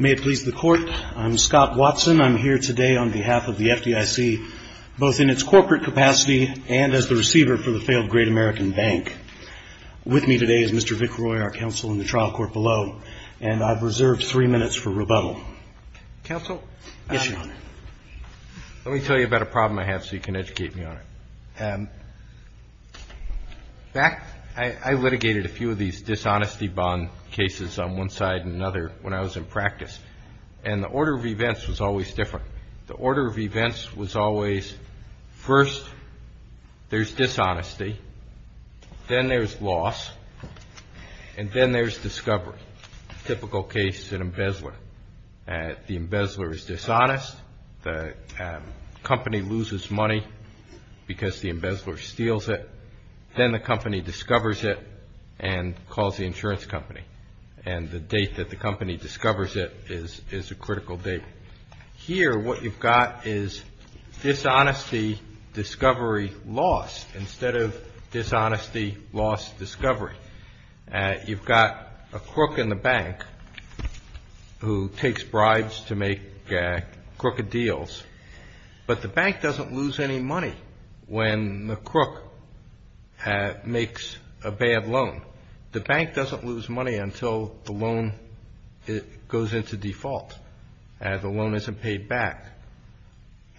May it please the Court, I'm Scott Watson, I'm here today on behalf of the FDIC, both in its corporate capacity and as the receiver for the failed Great American Bank. With me today is Mr. Dick Roy, our counsel in the trial court below, and I've reserved three minutes for rebuttal. Counsel? Yes, Your Honor. Let me tell you about a problem I have so you can educate me on it. I litigated a few of these dishonesty bond cases on one side and another when I was in practice, and the order of events was always different. The order of events was always first there's dishonesty, then there's loss, and then there's discovery, a typical case in embezzler. The embezzler is dishonest, the company loses money because the embezzler steals it, then the company discovers it and calls the insurance company, and the date that the company discovers it is a critical date. Here what you've got is dishonesty, discovery, loss, instead of dishonesty, loss, discovery. You've got a crook in the bank who takes bribes to make crooked deals, but the bank doesn't lose any money when the crook makes a bad loan. The bank doesn't lose money until the loan goes into default, the loan isn't paid back.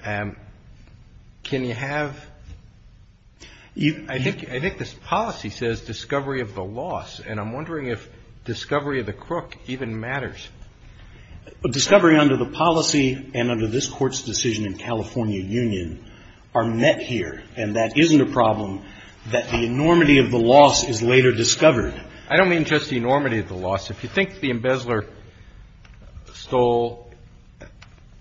Can you have, I think this policy says discovery of the loss, and I'm wondering if discovery of the crook even matters. Discovery under the policy and under this court's decision in California Union are met here, and that isn't a problem that the enormity of the loss is later discovered. I don't mean just the enormity of the loss. If you think the embezzler stole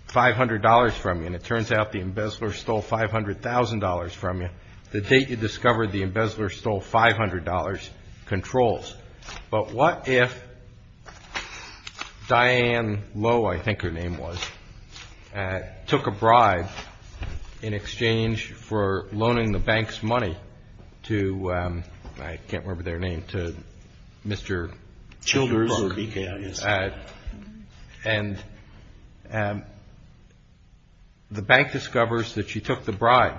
$500 from you, and it turns out the embezzler stole $500,000 from you, the date you discover the embezzler stole $500 controls. But what if Diane Lowe, I think her name was, took a bribe in exchange for loaning the bank's money to, I can't remember their name, to Mr. Childers, and the bank discovers that she took the bribe.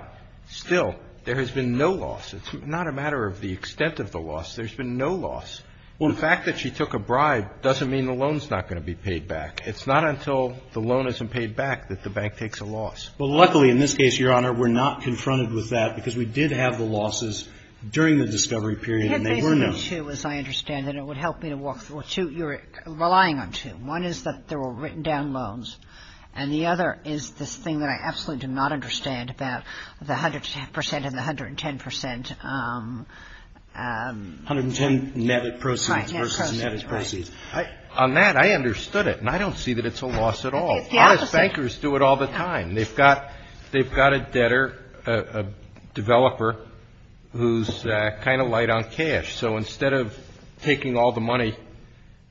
Still, there has been no loss. It's not a matter of the extent of the loss. There's been no loss. The fact that she took a bribe doesn't mean the loan's not going to be paid back. It's not until the loan isn't paid back that the bank takes a loss. Well, luckily in this case, Your Honor, we're not confronted with that, because we did have the losses during the discovery period, and they were known. They were two, as I understand it. It would help me to walk through. Well, two, you're relying on two. One is that there were written down loans, and the other is the thing that I absolutely do not understand about the 110 percent and the 110 percent. 110 net proceeds versus net proceeds. Right, net proceeds. On that, I understood it, and I don't see that it's a loss at all. Bankers do it all the time. They've got a debtor, a developer, who's kind of light on cash. So instead of taking all the money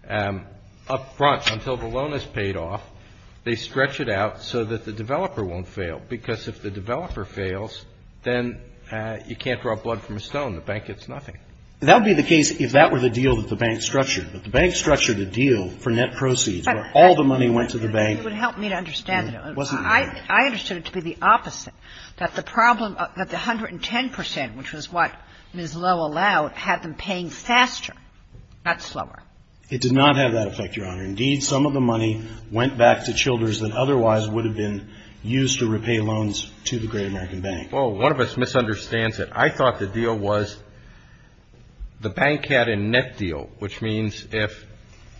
up front until the loan is paid off, they stretch it out so that the developer won't fail, because if the developer fails, then you can't draw blood from a stone. The bank gets nothing. That would be the case if that were the deal that the bank structured, but the bank structured the deal for net proceeds where all the money went to the bank. It would help me to understand it. I understood it to be the opposite, that the problem, that the 110 percent, which was what was well allowed, had them paying faster, not slower. It did not have that effect, Your Honor. Indeed, some of the money went back to children that otherwise would have been used to repay loans to the Great American Bank. Oh, one of us misunderstands it. I thought the deal was the bank had a net deal, which means if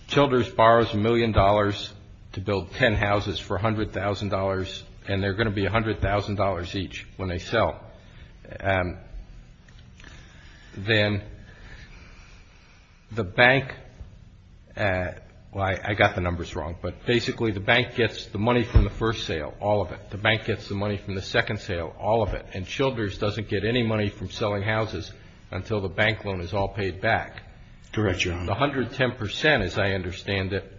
Childers borrows $1 million to build 10 houses for $100,000, and they're going to be $100,000 each when they sell, then the bank – well, I got the numbers wrong, but basically the bank gets the money from the first sale, all of it. The bank gets the money from the second sale, all of it. And Childers doesn't get any money from selling houses until the bank loan is all paid back. Correct, Your Honor. The 110 percent, as I understand it,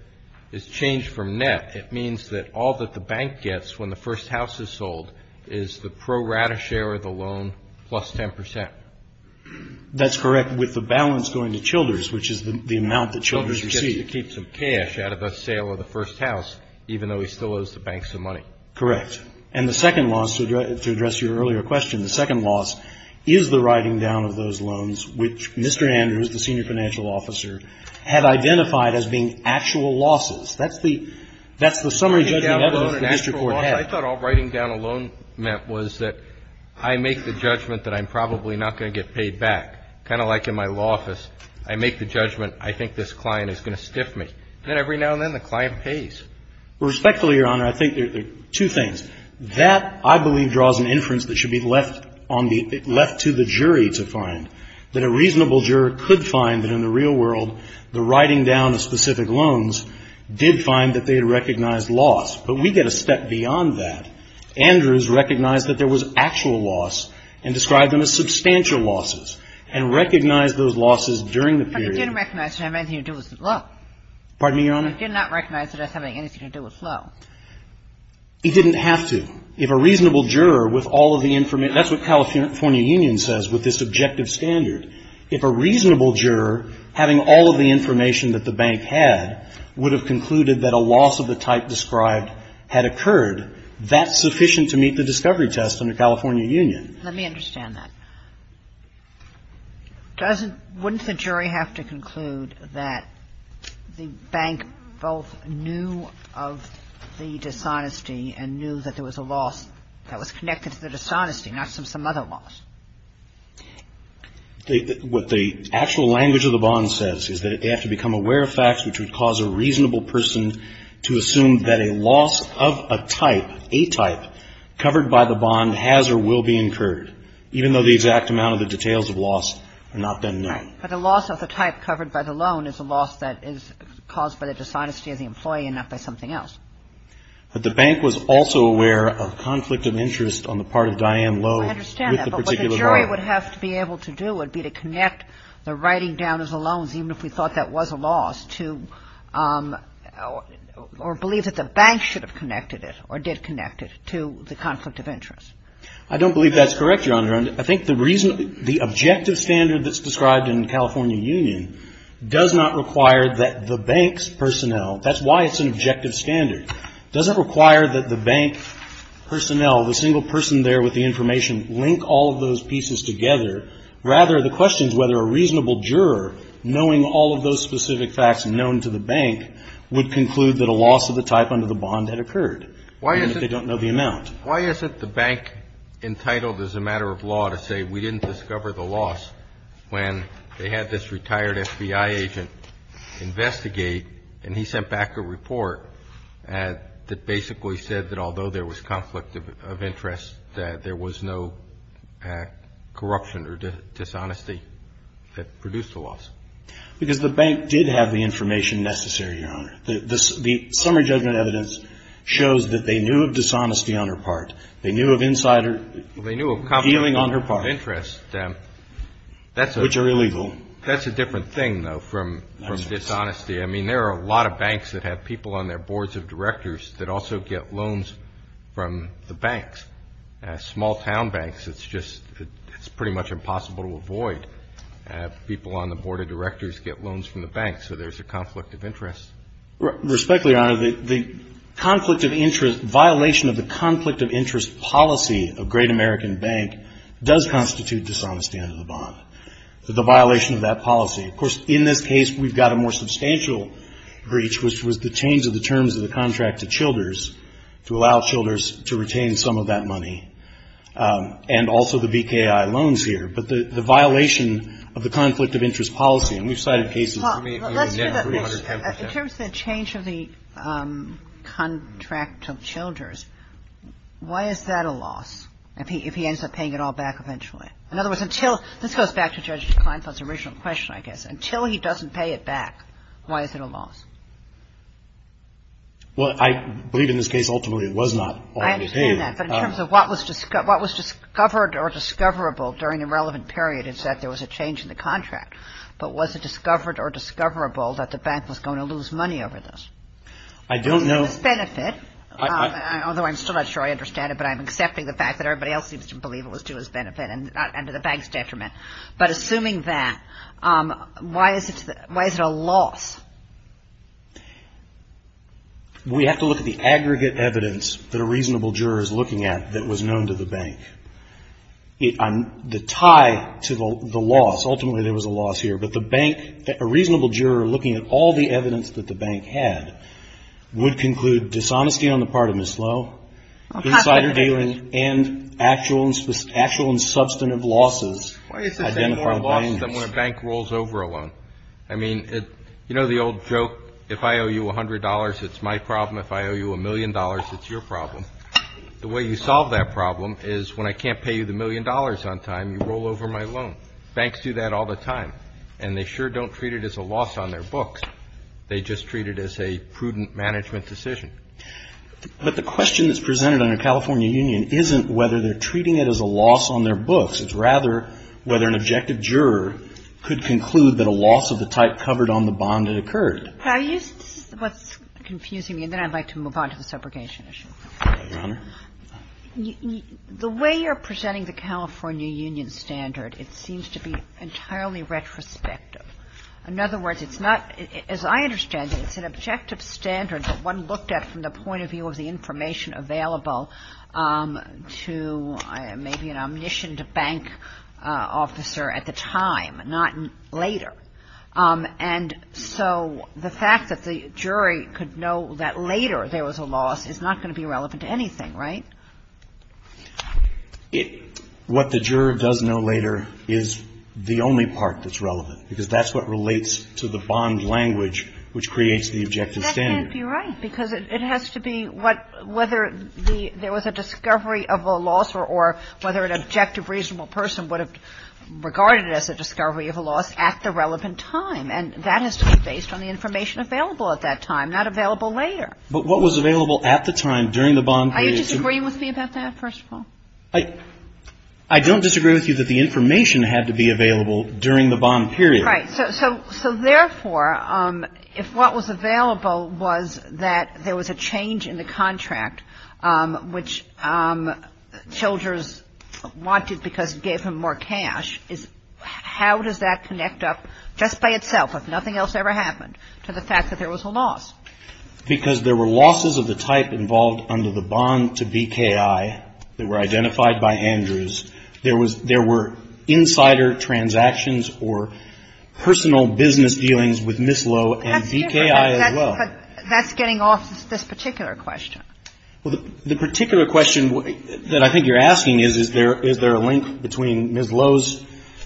is changed from net. It means that all that the bank gets when the first house is sold is the pro rata share of the loan plus 10 percent. That's correct, with the balance going to Childers, which is the amount that Childers received. Childers gets to keep some cash out of the sale of the first house, even though he still owes the bank some money. Correct. And the second loss, to address your earlier question, the second loss is the writing down of those loans, which Mr. Andrews, the senior financial officer, had identified as being actual losses. That's the summary judgment that the district court had. I thought all writing down a loan meant was that I make the judgment that I'm probably not going to get paid back. Kind of like in my law office, I make the judgment I think this client is going to stiff me. Then every now and then the client pays. Respectfully, Your Honor, I think there are two things. That, I believe, draws an inference that should be left to the jury to find, that a reasonable juror could find that in the real world the writing down of specific loans did find that they had recognized loss. But we get a step beyond that. Andrews recognized that there was actual loss and described them as substantial losses and recognized those losses during the period. But he didn't recognize them and he was in love. Pardon me, Your Honor? He did not recognize it as having anything to do with flow. He didn't have to. If a reasonable juror with all of the information, that's what California Union says with this objective standard. If a reasonable juror, having all of the information that the bank had, would have concluded that a loss of the type described had occurred, that's sufficient to meet the discovery test under California Union. Let me understand that. Doesn't, wouldn't the jury have to conclude that the bank both knew of the dishonesty and knew that there was a loss that was connected to the dishonesty, not some other loss? What the actual language of the bond says is that they have to become aware of facts which would cause a reasonable person to assume that a loss of a type, a type, covered by the bond has or will be incurred, even though the exact amount of the details of loss are not then known. Right, but a loss of a type covered by the loan is a loss that is caused by the dishonesty of the employee and not by something else. But the bank was also aware of conflict of interest on the part of Diane Lowe with the particular loan. I understand that, but what the jury would have to be able to do would be to connect the writing down as a loan, even if we thought that was a loss, to, or believe that the bank should have connected it or did connect it to the conflict of interest. I don't believe that's correct, John. I think the objective standard that's described in the California Union does not require that the bank's personnel, that's why it's an objective standard, doesn't require that the bank personnel, the single person there with the information, link all of those pieces together. Rather, the question is whether a reasonable juror, knowing all of those specific facts known to the bank, would conclude that a loss of the type under the bond had occurred, even if they don't know the amount. Why isn't the bank entitled as a matter of law to say we didn't discover the loss when they had this retired FBI agent investigate and he sent back a report that basically said that although there was conflict of interest, that there was no corruption or dishonesty that produced the loss? The bank did have the information necessary, Your Honor. The summary judgment evidence shows that they knew of dishonesty on their part. They knew of insider- They knew of conflict of interest. Which are illegal. That's a different thing, though, from dishonesty. I mean, there are a lot of banks that have people on their boards of directors that also get loans from the banks. Small town banks, it's pretty much impossible to avoid. People on the board of directors get loans from the bank, so there's a conflict of interest. Respectfully, Your Honor, the violation of the conflict of interest policy of Great American Bank does constitute dishonesty under the bond. So the violation of that policy. Of course, in this case, we've got a more substantial breach, which was the change of the terms of the contract to Childers to allow Childers to retain some of that money and also the BKI loans here. But the violation of the conflict of interest policy, and we've cited cases- In terms of the change of the contract to Childers, why is that a loss if he ends up paying it all back eventually? In other words, this goes back to Judge Kleinfeld's original question, I guess. Until he doesn't pay it back, why is it a loss? Well, I believe in this case, ultimately, it was not. I understand that. But in terms of what was discovered or discoverable during a relevant period is that there was a change in the contract. But was it discovered or discoverable that the bank was going to lose money over this? I don't know. Benefit. Although I'm still not sure I understand it, but I'm accepting the fact that everybody else seems to believe it was to his benefit and to the bank's detriment. But assuming that, why is it a loss? We have to look at the aggregate evidence that a reasonable juror is looking at that was known to the bank. The tie to the loss, ultimately, there was a loss here. But the bank, a reasonable juror looking at all the evidence that the bank had would conclude dishonesty on the part of Ms. Lowe, insider bailing, and actual and substantive losses. Why is it more a loss than when a bank rolls over a loan? I mean, you know the old joke, if I owe you $100, it's my problem. If I owe you a million dollars, it's your problem. The way you solve that problem is when I can't pay you the million dollars on time, you roll over my loan. Banks do that all the time. And they sure don't treat it as a loss on their books. They just treat it as a prudent management decision. But the question that's presented under California Union isn't whether they're treating it as a loss on their books. It's rather whether an objective juror could conclude that a loss of the type covered on the bond had occurred. Now, this is what's confusing me, and then I'd like to move on to the subrogation issue. Your Honor? The way you're presenting the California Union standard, it seems to be entirely retrospective. In other words, it's not, as I understand it, it's an objective standard that one looked at from the point of view of the information available to maybe an omniscient bank officer at the time, not later. And so the fact that the jury could know that later there was a loss is not going to be relevant to anything, right? What the juror does know later is the only part that's relevant, because that's what relates to the bond language which creates the objective standard. I think you're right, because it has to be whether there was a discovery of a loss or whether an objective reasonable person would have regarded it as a discovery of a loss at the relevant time. And that is based on the information available at that time, not available later. But what was available at the time during the bond period? I don't disagree with you about that, first of all. I don't disagree with you that the information had to be available during the bond period. Right. So, therefore, if what was available was that there was a change in the contract, which Childers wanted because it gave him more cash, how does that connect up just by itself, if nothing else ever happened, to the fact that there was a loss? Because there were losses of the type involved under the bond to BKI that were identified by Andrews. There were insider transactions or personal business dealings with Ms. Lowe and BKI as well. That's getting off this particular question. The particular question that I think you're asking is, is there a link between Ms. Lowe's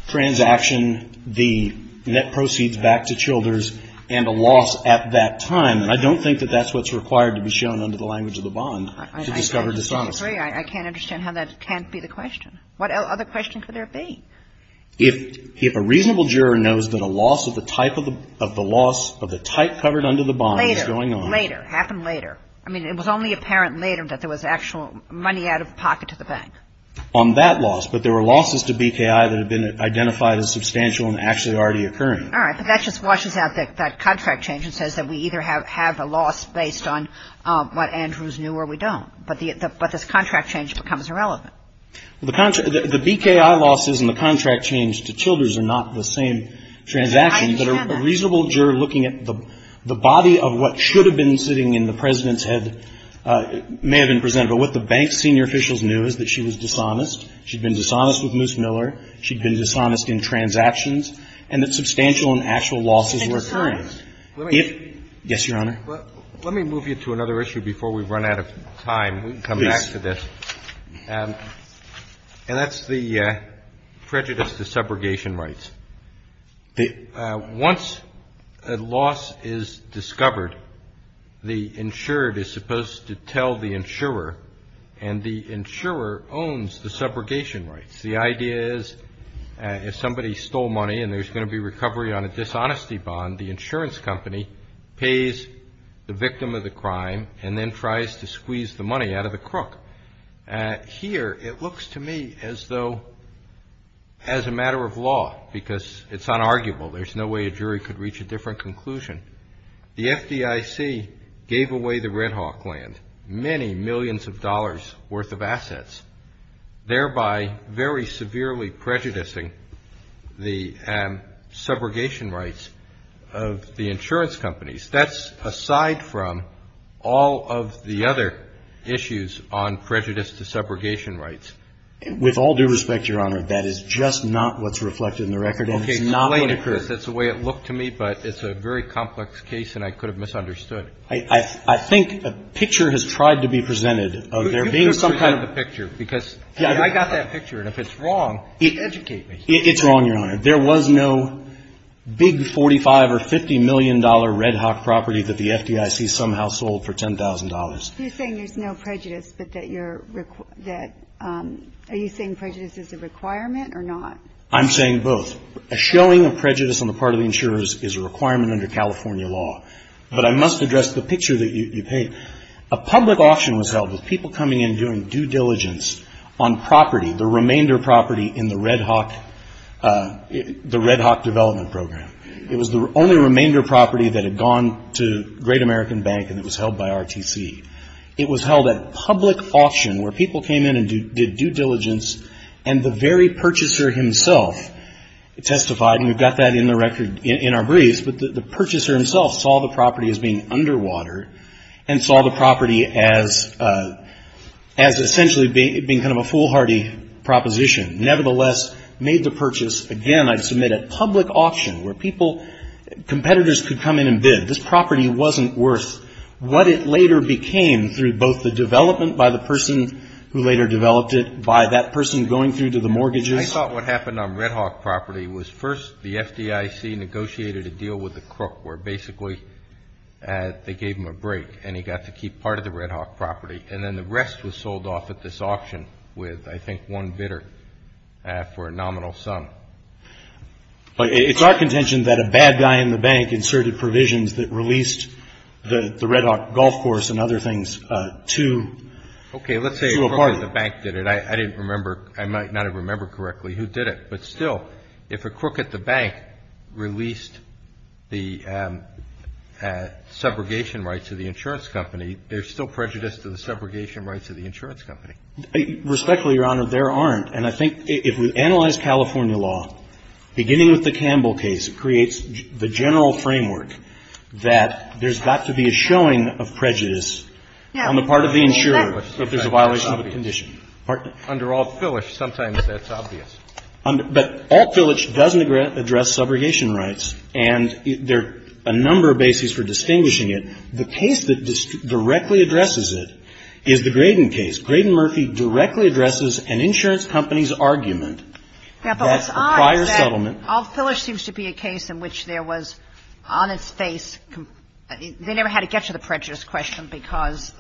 transaction, the net proceeds back to Childers, and the loss at that time? I don't think that that's what's required to be shown under the language of the bond to discover dishonesty. I can't understand how that can't be the question. What other questions would there be? If a reasonable juror knows that a loss of the type of the loss of the type covered under the bond is going on. Later. Later. It happened later. I mean, it was only apparent later that there was actual money out of pocket to the bank. On that loss. But there were losses to BKI that had been identified as substantial and actually already occurring. All right. So, that just washes out that contract change and says that we either have a loss based on what Andrews knew or we don't. But the contract change becomes irrelevant. The BKI losses and the contract change to Childers are not the same transactions. But a reasonable juror looking at the body of what should have been sitting in the President's head may have been present. But what the bank's senior officials knew is that she was dishonest. She'd been dishonest with Moose Miller. She'd been dishonest in transactions. And that substantial and actual losses were occurring. And dishonest. Yes, Your Honor. Let me move you to another issue before we run out of time. We can come back to this. And that's the prejudice to separation rights. Once a loss is discovered, the insured is supposed to tell the insurer. And the insurer owns the separation rights. The idea is if somebody stole money and there's going to be recovery on a dishonesty bond, the insurance company pays the victim of the crime and then tries to squeeze the money out of the crook. Here, it looks to me as though as a matter of law because it's unarguable. There's no way a jury could reach a different conclusion. The FDIC gave away the Red Hawk land, many millions of dollars worth of assets, thereby very severely prejudicing the subrogation rights of the insurance companies. That's aside from all of the other issues on prejudice to subrogation rights. With all due respect, Your Honor, that is just not what's reflected in the record. Okay, explain it. That's the way it looked to me, but it's a very complex case and I could have misunderstood. I think a picture has tried to be presented of there being some type of picture. Because I got that picture, and if it's wrong, educate me. It's wrong, Your Honor. There was no big $45 or $50 million Red Hawk property that the FDIC somehow sold for $10,000. You're saying there's no prejudice, but that you're – are you saying prejudice is a requirement or not? I'm saying both. A showing of prejudice on the part of the insurers is a requirement under California law. But I must address the picture that you paint. A public auction was held with people coming in and doing due diligence on property, the remainder property in the Red Hawk development program. It was the only remainder property that had gone to Great American Bank and it was held by RTC. It was held at public auction where people came in and did due diligence, and the very purchaser himself testified, and we've got that in the record in our briefs, but the purchaser himself saw the property as being underwater and saw the property as essentially being kind of a foolhardy proposition. Nevertheless, made the purchase. Again, I'd submit a public auction where people – competitors could come in and bid. This property wasn't worth what it later became through both the development by the person who later developed it, by that person going through to the mortgages. I thought what happened on Red Hawk property was first the FDIC negotiated a deal with the crook where basically they gave him a break and he got to keep part of the Red Hawk property, and then the rest was sold off at this auction with, I think, one bidder for a nominal sum. It's our contention that a bad guy in the bank inserted provisions that released the Red Hawk golf course and other things to a partner. Okay, let's say a crook at the bank did it. I didn't remember – I might not have remembered correctly who did it, but still if a crook at the bank released the subrogation rights of the insurance company, there's still prejudice to the subrogation rights of the insurance company. Respectfully, Your Honor, there aren't, and I think if we analyze California law, beginning with the Campbell case creates the general framework that there's got to be a showing of prejudice on the part of the insurer that there's a violation of the condition. Under Alt Filich, sometimes that's obvious. But Alt Filich doesn't address subrogation rights, and there are a number of bases for distinguishing it. The case that directly addresses it is the Graydon case. Graydon Murphy directly addresses an insurance company's argument that the prior settlement – Alt Filich seems to be a case in which there was on its face – they never had to get to the prejudice question because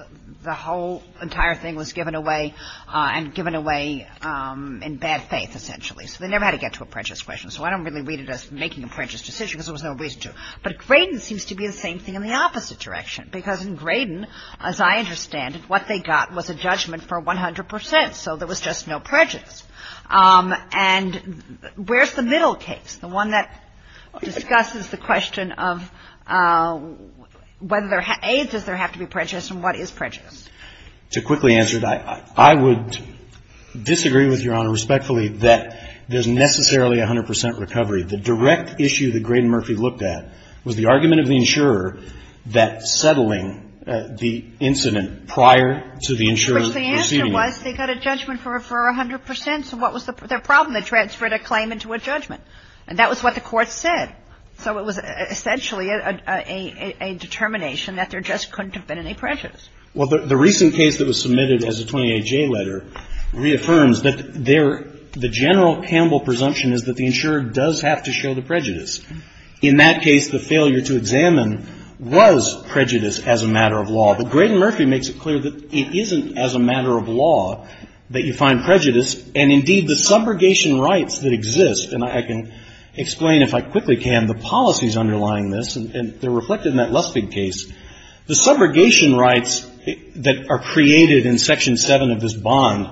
the whole entire thing was given away and given away in bad faith, essentially. So, they never had to get to a prejudice question. So, I don't really read it as making a prejudice decision because there was no reason to. But Graydon seems to be the same thing in the opposite direction. Because in Graydon, as I understand it, what they got was a judgment for 100%, so there was just no prejudice. And where's the middle case? The one that discusses the question of whether there – AIDS, does there have to be prejudice, and what is prejudice? To quickly answer that, I would disagree with Your Honor respectfully that there's necessarily 100% recovery. The direct issue that Graydon Murphy looked at was the argument of the insurer that settling the incident prior to the insurer's proceeding. They got a judgment for 100%, so what was the problem? They transferred a claim into a judgment. And that was what the court said. So, it was essentially a determination that there just couldn't have been any prejudice. Well, the recent case that was submitted as a 28-J letter reaffirms that there – the general Campbell presumption is that the insurer does have to show the prejudice. In that case, the failure to examine was prejudice as a matter of law. But Graydon Murphy makes it clear that it isn't as a matter of law that you find prejudice, and indeed the subrogation rights that exist – and I can explain if I quickly can the policies underlying this, and they're reflected in that Lustig case. The subrogation rights that are created in Section 7 of this bond,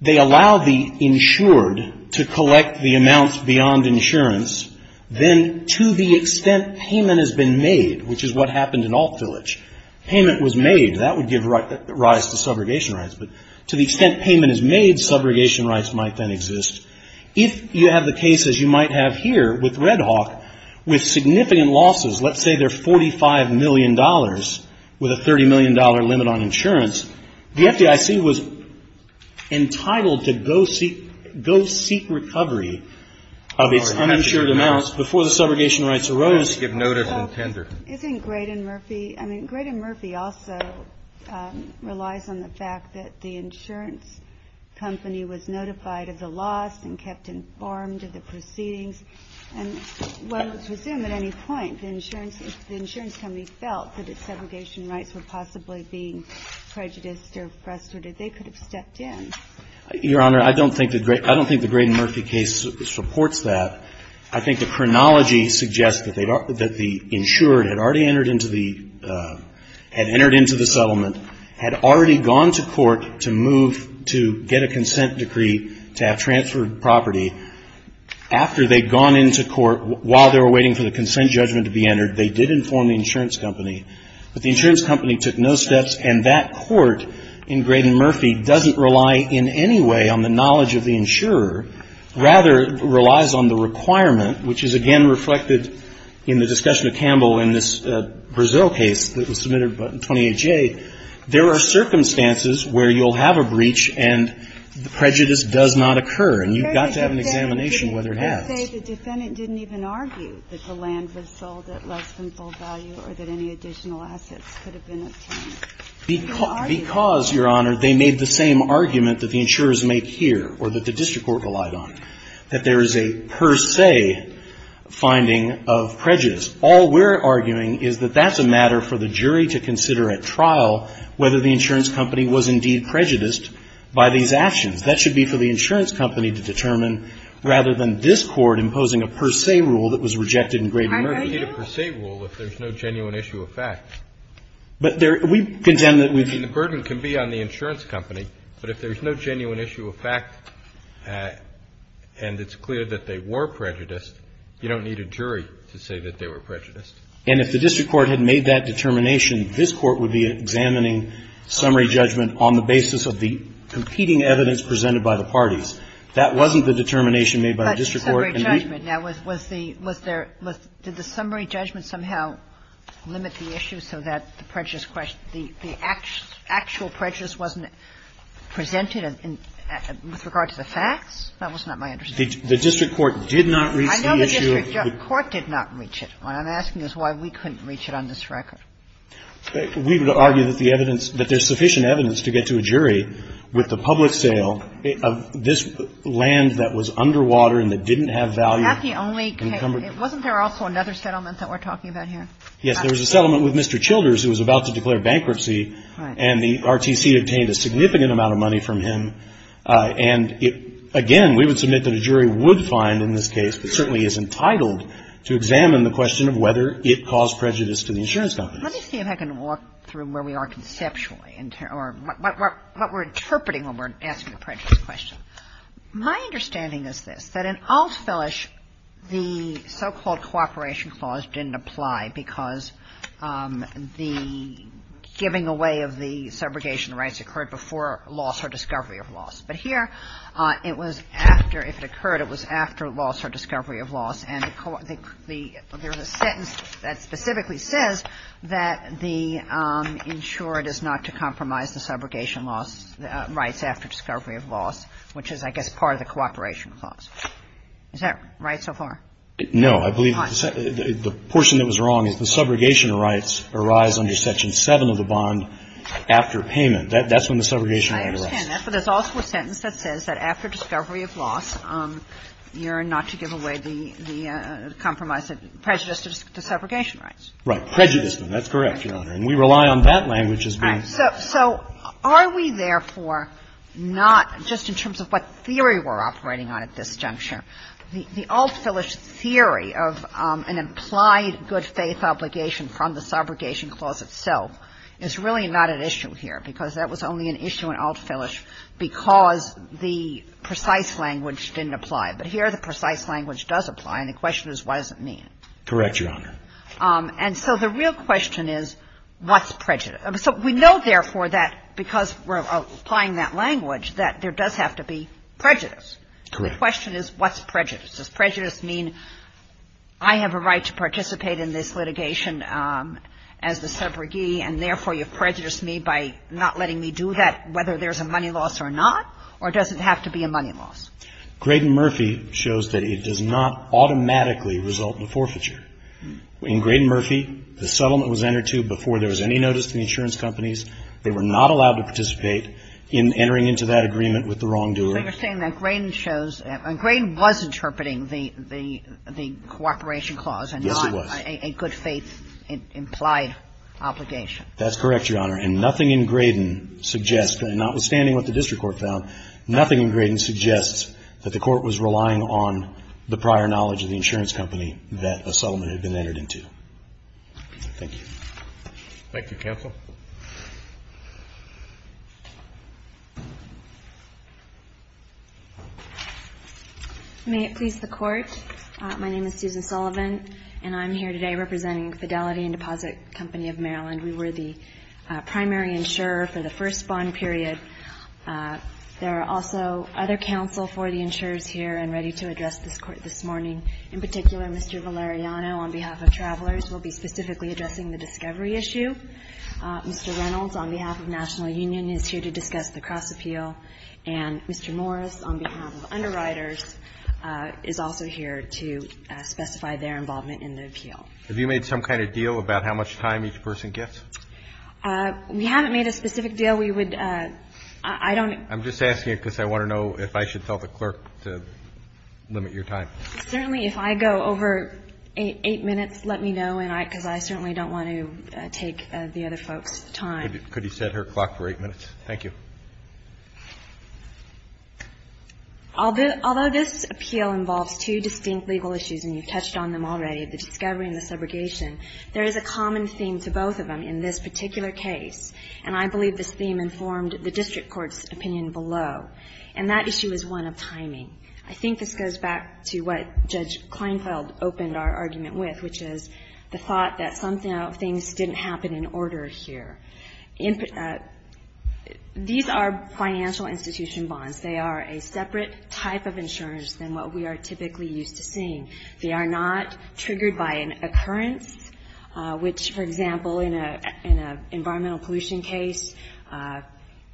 they allow the insured to collect the amounts beyond insurance, then to the extent payment has been made, which is what happened in Alt Village, payment was made, that would give rise to subrogation rights, but to the extent payment is made, subrogation rights might then exist. If you have the cases you might have here with Red Hawk, with significant losses, let's say they're $45 million with a $30 million limit on insurance, the FDIC was entitled to go seek recovery of its uninsured amounts before the subrogation rights arose. Isn't Graydon Murphy – I mean, Graydon Murphy also relies on the fact that the insurance company was notified of the loss and kept informed of the proceedings, and whether to them at any point the insurance company felt that its subrogation rights were possibly being prejudiced or frustrated, they could have stepped in. Your Honor, I don't think the Graydon Murphy case supports that. I think the chronology suggests that the insurer had already entered into the settlement, had already gone to court to move to get a consent decree to have transferred property. After they'd gone into court, while they were waiting for the consent judgment to be entered, they did inform the insurance company, but the insurance company took no steps, and that court in Graydon Murphy doesn't rely in any way on the knowledge of the insurer, rather relies on the requirement, which is again reflected in the discussion of Campbell in this Brazil case that was submitted in 2008-J. There are circumstances where you'll have a breach and prejudice does not occur, and you've got to have an examination of whether it has. The defendant didn't even argue that the land was sold at less than full value or that any additional assets could have been obtained. Because, Your Honor, they made the same argument that the insurers make here, or that the district court relied on, that there is a per se finding of prejudice. All we're arguing is that that's a matter for the jury to consider at trial, whether the insurance company was indeed prejudiced by these actions. That should be for the insurance company to determine, rather than this court imposing a per se rule that was rejected in Graydon Murphy. I don't need a per se rule if there's no genuine issue of fact. But we contend that... And the burden can be on the insurance company, but if there's no genuine issue of fact and it's clear that they were prejudiced, you don't need a jury to say that they were prejudiced. And if the district court had made that determination, this court would be examining summary judgment on the basis of the competing evidence presented by the parties. That wasn't the determination made by the district court. But summary judgment, now, was the – was there – did the summary judgment somehow limit the issue so that the prejudice – the actual prejudice wasn't presented with regard to the facts? That was not my understanding. The district court did not reach any issue... I know the district court did not reach it. What I'm asking is why we couldn't reach it on this record. We would argue that the evidence – that there's sufficient evidence to get to a jury with the public sale of this land that was underwater and that didn't have value. Wasn't there also another settlement that we're talking about here? Yes, there was a settlement with Mr. Childers who was about to declare bankruptcy, and the RTC obtained a significant amount of money from him. And, again, we would submit that a jury would find in this case, but certainly is entitled to examine the question whether it caused prejudice to the insurance company. Let me see if I can walk through where we are conceptually or what we're interpreting when we're asking the prejudice question. My understanding is this, that in Allsville-ish, the so-called cooperation clause didn't apply because the giving away of the subrogation rights occurred before loss or discovery of loss. But here, it was after – if it occurred, it was after loss or discovery of loss. And there's a sentence that specifically says that the insurer does not compromise the subrogation rights after discovery of loss, which is, I guess, part of the cooperation clause. Is that right so far? No, I believe the portion that was wrong is the subrogation rights arise under Section 7 of the bond after payment. That's when the subrogation rights arise. I understand that, but there's also a sentence that says that after discovery of loss, you're not to give away the compromised prejudices to subrogation rights. Right. Prejudice. That's correct, Your Honor. And we rely on that language as being... So, are we therefore not, just in terms of what theory we're operating on at this juncture, the Allsville-ish theory of an implied good faith obligation from the subrogation clause itself is really not an issue here because that was only an issue in Allsville-ish because the precise language didn't apply. But here, the precise language does apply, and the question is, what does it mean? Correct, Your Honor. And so, the real question is, what's prejudice? We know, therefore, that because we're applying that language, that there does have to be prejudice. The question is, what's prejudice? Does prejudice mean I have a right to participate in this litigation as a subrogee, and therefore, you prejudice me by not letting me do that, whether there's a money loss or not, or does it have to be a money loss? Graydon Murphy shows that it does not automatically result in forfeiture. In Graydon Murphy, the settlement was entered to before there was any notice to the insurance companies. They were not allowed to participate in entering into that agreement with the wrongdoer. So, you're saying that Graydon shows... Graydon was interpreting the cooperation clause... Yes, it was. ...a good faith implied obligation. That's correct, Your Honor. And nothing in Graydon suggests, notwithstanding what the district court found, nothing in Graydon suggests that the court was relying on the prior knowledge of the insurance company that the settlement had been entered into. Thank you. Thank you. Counsel? May it please the Court. My name is Susan Sullivan, and I'm here today representing Fidelity and Deposit Company of Maryland. We were the primary insurer for the first bond period. There are also other counsel for the insurers here and ready to address this Court this morning. In particular, Mr. Valeriano, on behalf of Travelers, will be specifically addressing the discovery issue. Mr. Reynolds, on behalf of National Union, is here to discuss the Cross-Appeal. And Mr. Morris, on behalf of Underwriters, is also here to specify their involvement in the appeal. Have you made some kind of deal about how much time each person gets? We haven't made a specific deal. We would... I don't... I'm just asking it because I want to know if I should tell the clerk to limit your time. Certainly. If I go over eight minutes, let me know, because I certainly don't want to take the other folks' time. Could you set her clock for eight minutes? Thank you. Although this appeal involves two distinct legal issues, and you touched on them already, the discovery and the segregation, there is a common theme to both of them in this particular case. And I believe this theme informed the district court's opinion below. And that issue is one of timing. I think this goes back to what Judge Kleinfeld opened our argument with, which is the thought that somehow things didn't happen in order here. These are financial institution bonds. They are a separate type of insurance than what we are typically used to seeing. They are not triggered by an occurrence, which, for example, in an environmental pollution case,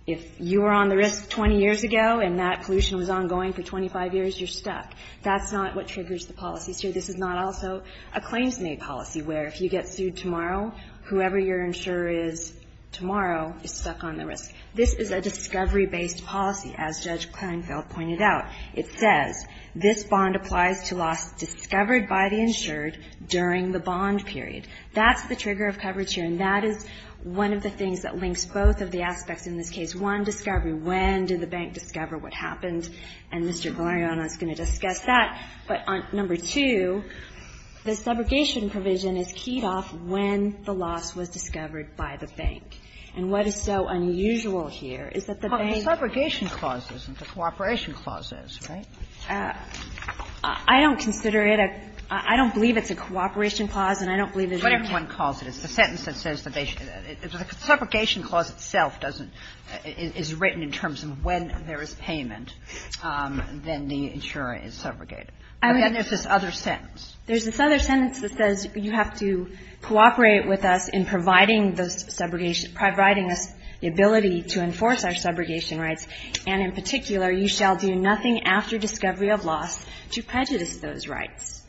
if you were on the risk 20 years ago and that pollution was ongoing for 25 years, you're stuck. That's not what triggers the policy, too. This is not also a claims-made policy, where if you get sued tomorrow, whoever your insurer is tomorrow is stuck on the risk. This is a discovery-based policy, as Judge Kleinfeld pointed out. It says, this bond applies to losses discovered by the insured during the bond period. That's the trigger of coverage here, and that is one of the things that links both of the aspects in this case. One, discovery. When did the bank discover what happened? And Mr. Guariano is going to discuss that. But number two, the subrogation provision is keyed off when the loss was discovered by the bank. And what is so unusual here is that the bank- Well, the subrogation clause isn't. The cooperation clause is, right? I don't consider it a-I don't believe it's a cooperation clause, and I don't believe it's- But if one calls it, it's the sentence that says that they- Again, there's this other sentence. There's this other sentence that says you have to cooperate with us in providing the subrogation-providing us the ability to enforce our subrogation rights, and in particular, you shall do nothing after discovery of loss to prejudice those rights.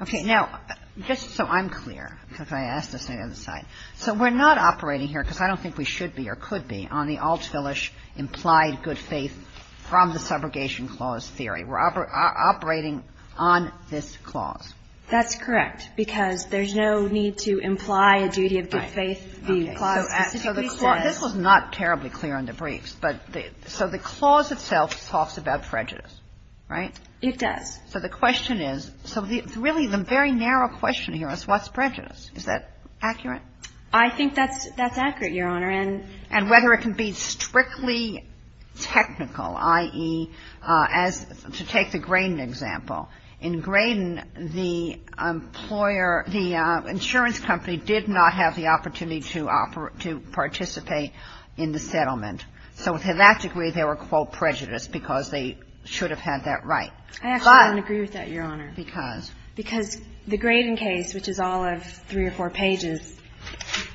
Okay. Now, just so I'm clear, because I asked this on the other side. So we're not operating here, because I don't think we should be or could be, on the Altschulish implied good faith from the subrogation clause theory. We're operating on this clause. That's correct, because there's no need to imply a duty of good faith. This was not terribly clear in the briefs, but the-so the clause itself talks about prejudice, right? It does. So the question is-so really, the very narrow question here is what's prejudice? Is that accurate? I think that's accurate, Your Honor. And whether it can be strictly technical, i.e., as-to take the Graydon example. In Graydon, the employer-the insurance company did not have the opportunity to participate in the settlement. So to that degree, they were, quote, prejudiced, because they should have had that right. I actually don't agree with that, Your Honor. Because? Because the Graydon case, which is all of three or four pages,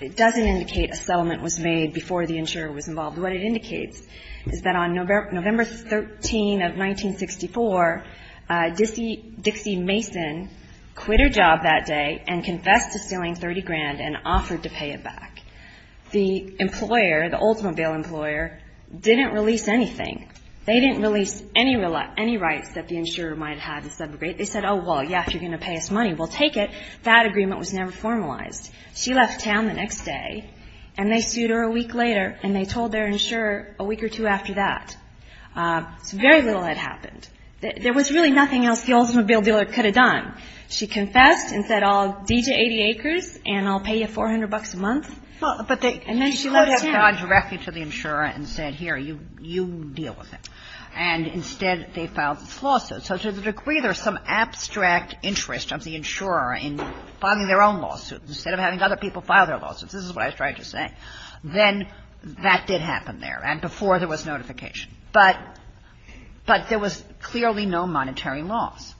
it doesn't indicate a settlement was made before the insurer was involved. What it indicates is that on November 13 of 1964, Dixie Mason quit her job that day and confessed to spilling 30 grand and offered to pay it back. The employer, the Oldsmobile employer, didn't release anything. They didn't release any rights that the insurer might have had in subrogation. They said, oh, well, yes, you're going to pay us money. We'll take it. That agreement was never formalized. She left town the next day, and they sued her a week later, and they told their insurer a week or two after that. Very little had happened. There was really nothing else the Oldsmobile dealer could have done. She confessed and said, I'll give you 80 acres, and I'll pay you 400 bucks a month. And then she left town. She called it out directly to the insurer and said, here, you deal with it. And instead they filed a lawsuit. So to the degree there's some abstract interest of the insurer in filing their own lawsuit instead of having other people file their lawsuits, this is what I was trying to say, then that did happen there and before there was notification. But there was clearly no monetary loss.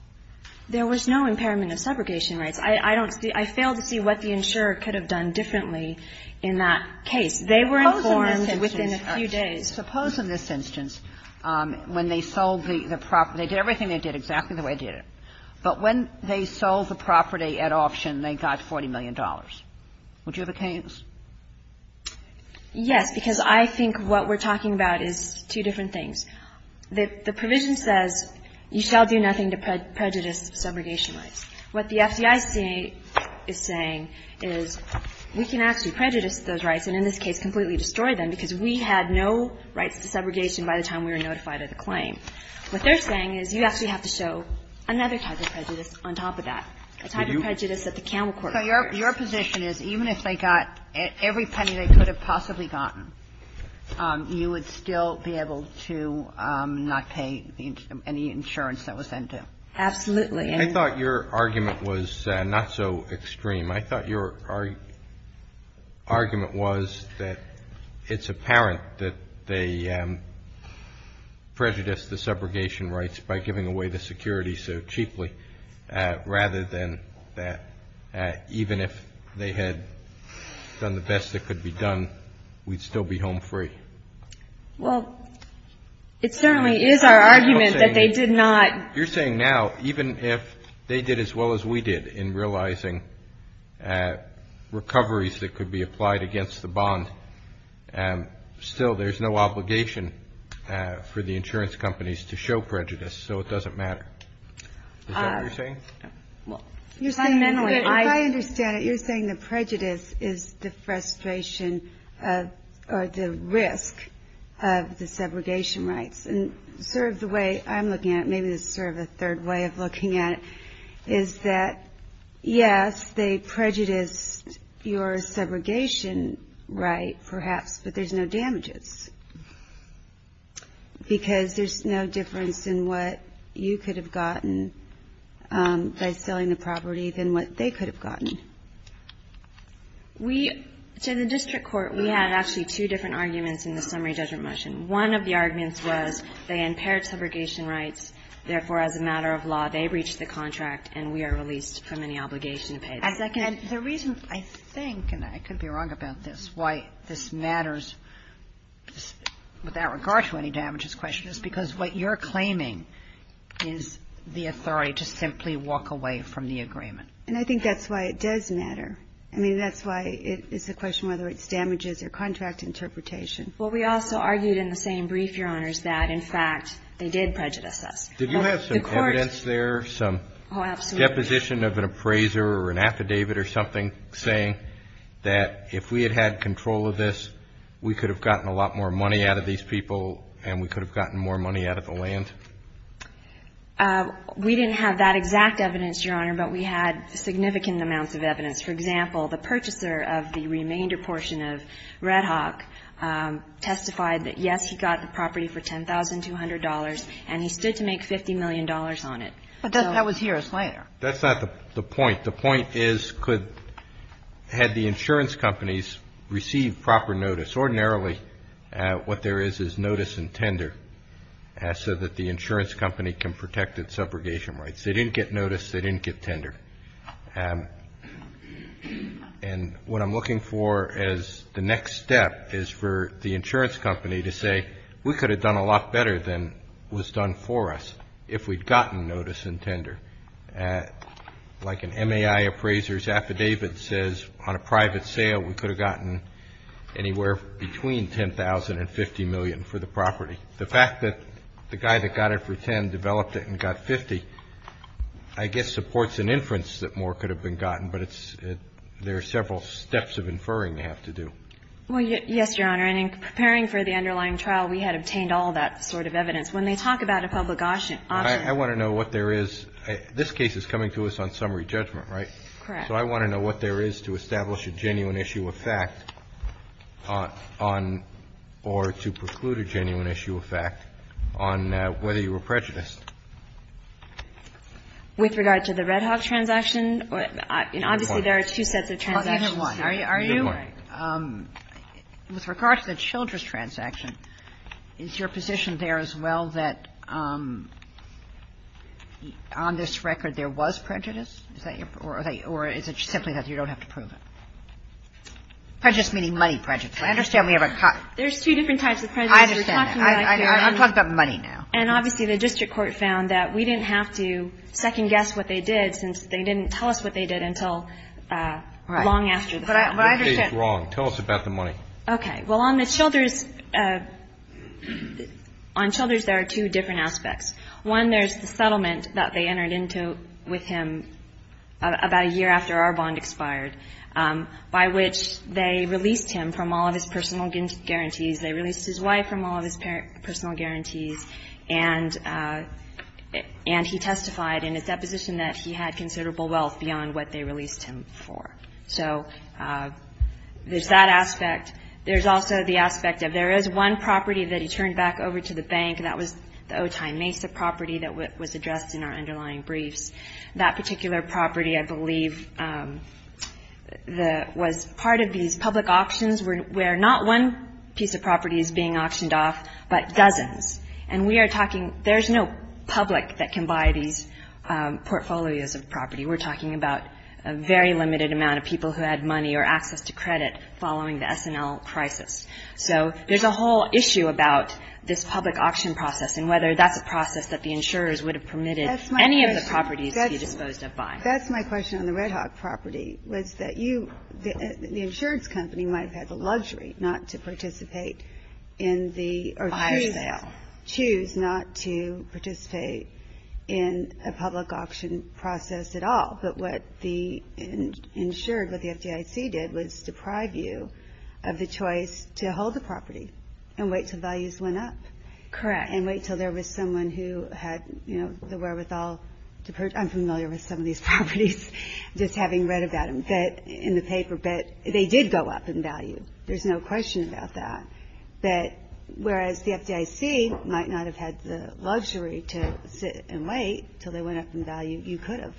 There was no impairment of subrogation rights. I fail to see what the insurer could have done differently in that case. They were informed within a few days. I suppose in this instance when they sold the property, they did everything they did exactly the way they did it. But when they sold the property at auction, they got $40 million. Would you have a chance? Yes, because I think what we're talking about is two different things. The provision says you shall do nothing to prejudice subrogation rights. What the FDIC is saying is we can actually prejudice those rights and in this case completely destroy them because we had no rights to subrogation by the time we were notified of the claim. What they're saying is you actually have to show another type of prejudice on top of that, a type of prejudice that the Camel Corp. So your position is even if they got every penny they could have possibly gotten, you would still be able to not pay any insurance that was sent to them? Absolutely. I thought your argument was not so extreme. I thought your argument was that it's apparent that they prejudice the subrogation rights by giving away the security so cheaply rather than even if they had done the best that could be done, we'd still be home free. Well, it certainly is our argument that they did not. You're saying now even if they did as well as we did in realizing recoveries that could be applied against the bond, still there's no obligation for the insurance companies to show prejudice so it doesn't matter. Is that what you're saying? I understand it. You're saying that prejudice is the frustration or the risk of the subrogation rights. The way I'm looking at it, maybe it's sort of a third way of looking at it, is that, yes, they prejudice your subrogation right perhaps, but there's no damages because there's no difference in what you could have gotten by selling the property than what they could have gotten. In the district court we had actually two different arguments in the summary judgment motion. One of the arguments was they impaired subrogation rights, therefore, as a matter of law, they breached the contract and we are released from any obligation payment. The reason I think, and I could be wrong about this, why this matters without regard to any damages question is because what you're claiming is the authority to simply walk away from the agreement. And I think that's why it does matter. I mean, that's why it's a question whether it's damages or contract interpretation. Well, we also argued in the same brief, Your Honor, that, in fact, they did prejudice us. Did you have some evidence there, some deposition of an appraiser or an affidavit or something, saying that if we had had control of this, we could have gotten a lot more money out of these people and we could have gotten more money out of the land? We didn't have that exact evidence, Your Honor, but we had significant amounts of evidence. For example, the purchaser of the remainder portion of Red Hawk testified that, yes, he got the property for $10,200 and he stood to make $50 million on it. But that was here a slider. That's not the point. The point is, had the insurance companies received proper notice, ordinarily what there is is notice and tender so that the insurance company can protect its subrogation rights. They didn't get notice. They didn't get tender. And what I'm looking for as the next step is for the insurance company to say, we could have done a lot better than was done for us if we'd gotten notice and tender. Like an MAI appraiser's affidavit says, on a private sale, we could have gotten anywhere between $10,000 and $50 million for the property. The fact that the guy that got it for $10 developed it and got $50, I guess supports an inference that more could have been gotten, but there are several steps of inferring you have to do. Well, yes, Your Honor, and in preparing for the underlying trial, we had obtained all that sort of evidence. When they talk about a public option ---- I want to know what there is. This case is coming to us on summary judgment, right? Correct. So I want to know what there is to establish a genuine issue of fact on or to preclude a genuine issue of fact on whether you were prejudiced. With regard to the Red House transaction, obviously there are two sets of transactions. Are you? With regard to the Childress transaction, is your position there as well that on this record there was prejudice? Or is it something that you don't have to prove it? Prejudice meaning money prejudice. I understand we have a ---- There's two different types of prejudice. I understand. I'm talking about money now. And obviously the district court found that we didn't have to second guess what they did since they didn't tell us what they did until long after. What case is wrong? Tell us about the money. Okay. Well, on the Childress, there are two different aspects. One, there's the settlement that they entered into with him about a year after our bond expired, by which they released him from all of his personal guarantees. They released his wife from all of his personal guarantees, and he testified in his deposition that he had considerable wealth beyond what they released him for. So there's that aspect. There's also the aspect that there is one property that he turned back over to the bank, and that was the Otay Mesa property that was addressed in our underlying brief. That particular property, I believe, was part of these public auctions where not one piece of property is being auctioned off, but dozens. And we are talking, there's no public that can buy these portfolios of property. We're talking about a very limited amount of people who had money or access to credit following the SNL crisis. So there's a whole issue about this public auction process and whether that's a process that the insurers would have permitted any of the properties he didn't go to buy. That's my question on the Red Hawk property, was that the insurance company might have had the luxury not to participate in the or choose not to participate in a public auction process at all. But what the insured, what the FDIC did, was deprive you of the choice to hold the property and wait until values went up. Correct. And wait until there was someone who had, you know, the wherewithal to purchase. I'm familiar with some of these properties, just having read about them in the paper. But they did go up in value. There's no question about that. Whereas the FDIC might not have had the luxury to sit and wait until they went up in value. You could have.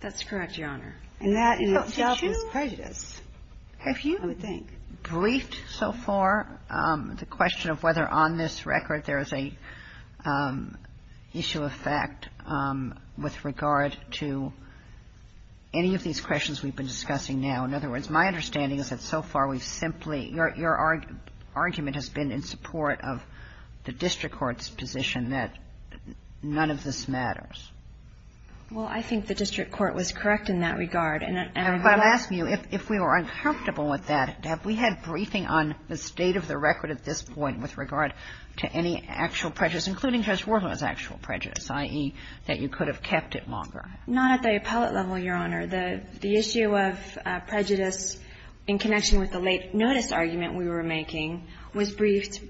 That's correct, Your Honor. And that in itself is prejudice. Have you briefed so far the question of whether on this record there is an issue of fact with regard to any of these questions we've been discussing now? In other words, my understanding is that so far we've simply, your argument has been in support of the district court's position that none of this matters. Well, I think the district court was correct in that regard. And I'm asking you, if we were uncomfortable with that, have we had briefing on the state of the record at this point with regard to any actual prejudice, including Judge Warhol's actual prejudice, i.e. that you could have kept it longer? Not at the appellate level, Your Honor. The issue of prejudice in connection with the late notice argument we were making was briefed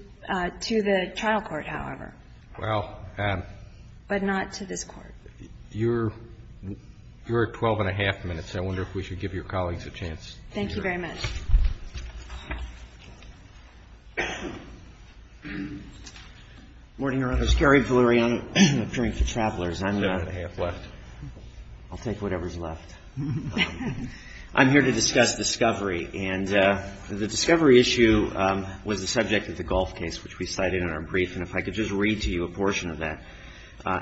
to the child court, however. But not to this court. You're at 12 and a half minutes. I wonder if we should give your colleagues a chance. Thank you very much. Good morning, Your Honor. This is Gary Velouriani, appearing for Chappellers. I'm going to take whatever's left. I'm here to discuss discovery. And the discovery issue was the subject of the Gulf case, which we cited in our brief. And if I could just read to you a portion of that.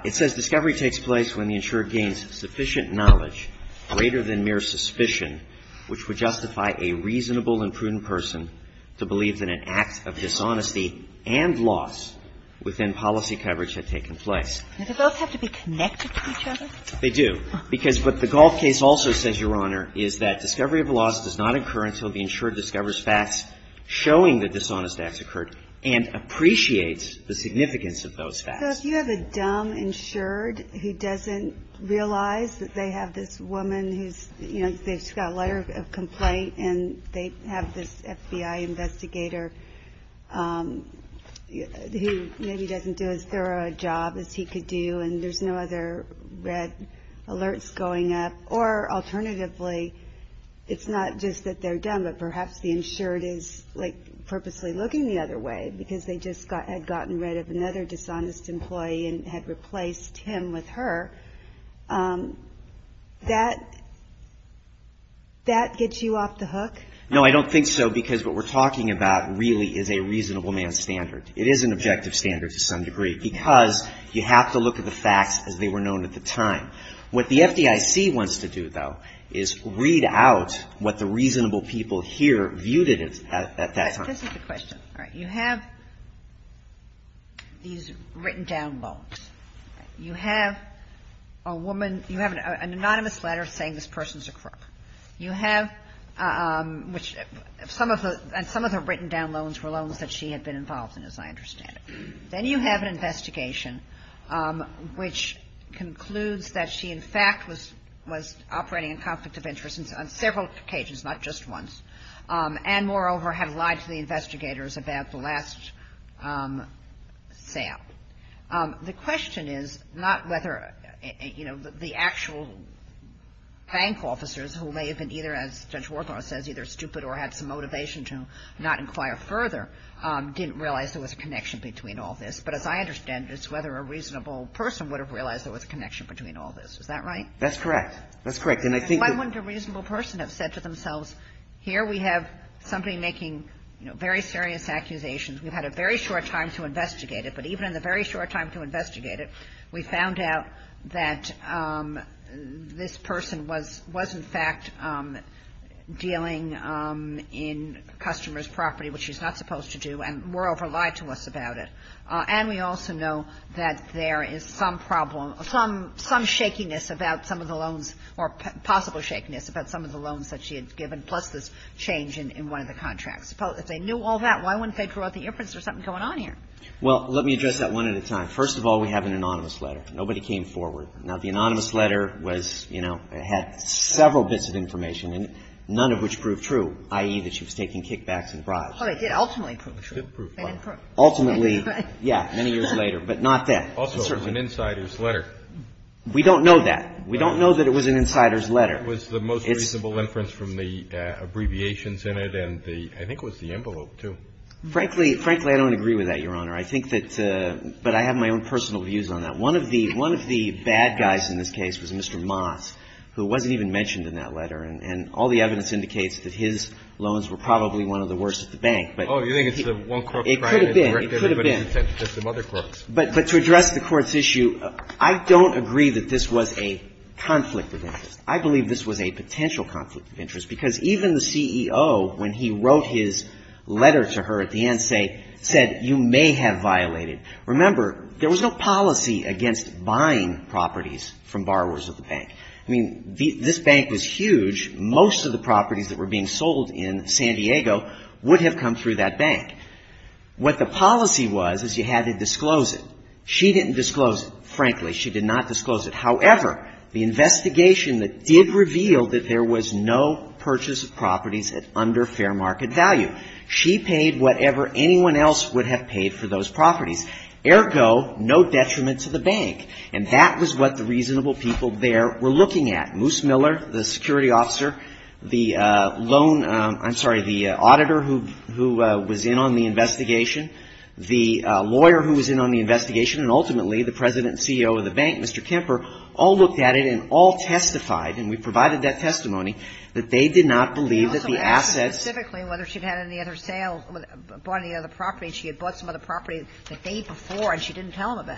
It says, discovery takes place when the insurer gains sufficient knowledge, greater than mere suspicion, which would justify a reasonable and prudent person to believe that an act of dishonesty and loss within policy coverage had taken place. Do those have to be connected to each other? They do. Because what the Gulf case also says, Your Honor, is that discovery of loss does not occur until the insured discovers facts showing that dishonest acts occurred and appreciates the significance of those facts. So if you have a dumb insured who doesn't realize that they have this woman who's, you know, they just got a letter of complaint and they have this FBI investigator who maybe doesn't do as thorough a job as he could do and there's no other red alerts going up, or alternatively, it's not just that they're dumb, but perhaps the insured is, like, purposely looking the other way because they just had gotten rid of another dishonest employee and had replaced him with her, that gets you off the hook? No, I don't think so, because what we're talking about really is a reasonable man's standard. It is an objective standard to some degree, because you have to look at the facts as they were known at the time. What the FDIC wants to do, though, is read out what the reasonable people here viewed it as at that time. That's a good question. All right, you have these written down loans. You have a woman, you have an anonymous letter saying this person's a crook. You have, which some of her written down loans were loans that she had been involved in, as I understand it. Then you have an investigation which concludes that she, in fact, was operating in conflict of interest on several occasions, not just once. And, moreover, had lied to the investigators about the last sale. The question is not whether, you know, the actual bank officers who may have been either, as Judge Warthog says, either stupid or had some motivation to not inquire further, didn't realize there was a connection between all this. But, as I understand it, it's whether a reasonable person would have realized there was a connection between all this. Is that right? That's correct. That's correct. Why wouldn't a reasonable person have said to themselves, here we have somebody making, you know, very serious accusations. We've had a very short time to investigate it. But even in the very short time to investigate it, we found out that this person was, in fact, dealing in customers' property, which she's not supposed to do, and, moreover, lied to us about it. And we also know that there is some problem, some shakiness about some of the loans, or possible shakiness about some of the loans that she had given, plus this change in one of the contracts. They knew all that. Why wouldn't they draw the inference there's something going on here? Well, let me address that one at a time. First of all, we have an anonymous letter. Nobody came forward. Now, the anonymous letter was, you know, it had several bits of information, and none of which proved true, i.e., that she was taking kickbacks and bribes. Oh, it did ultimately prove true. It did prove true. Ultimately, yeah, many years later. But not that. Also, it was an insider's letter. We don't know that. We don't know that it was an insider's letter. It was the most reasonable inference from the abbreviations in it, and I think it was the envelope, too. Frankly, I don't agree with that, Your Honor. I think that – but I have my own personal views on that. One of the bad guys in this case was Mr. Moss, who wasn't even mentioned in that letter, and all the evidence indicates that his loans were probably one of the worst at the bank. Oh, you think it's the one court trial? It could have been. It could have been. There's some other courts. But to address the court's issue, I don't agree that this was a conflict of interest. I believe this was a potential conflict of interest because even the CEO, when he wrote his letter to her at the end, said, you may have violated. Remember, there was no policy against buying properties from borrowers of the bank. I mean, this bank was huge. Most of the properties that were being sold in San Diego would have come through that bank. What the policy was is you had to disclose it. She didn't disclose it, frankly. She did not disclose it. However, the investigation did reveal that there was no purchase of properties under fair market value. She paid whatever anyone else would have paid for those properties. Ergo, no detriment to the bank. And that was what the reasonable people there were looking at. Moose Miller, the security officer, the loan, I'm sorry, the auditor who was in on the investigation, the lawyer who was in on the investigation, and ultimately the president and CEO of the bank, Mr. Kemper, all looked at it and all testified, and we provided that testimony, that they did not believe that the assets... Specifically, whether she'd had any other sales, bought any other properties. She had bought some other properties the day before, and she didn't tell them of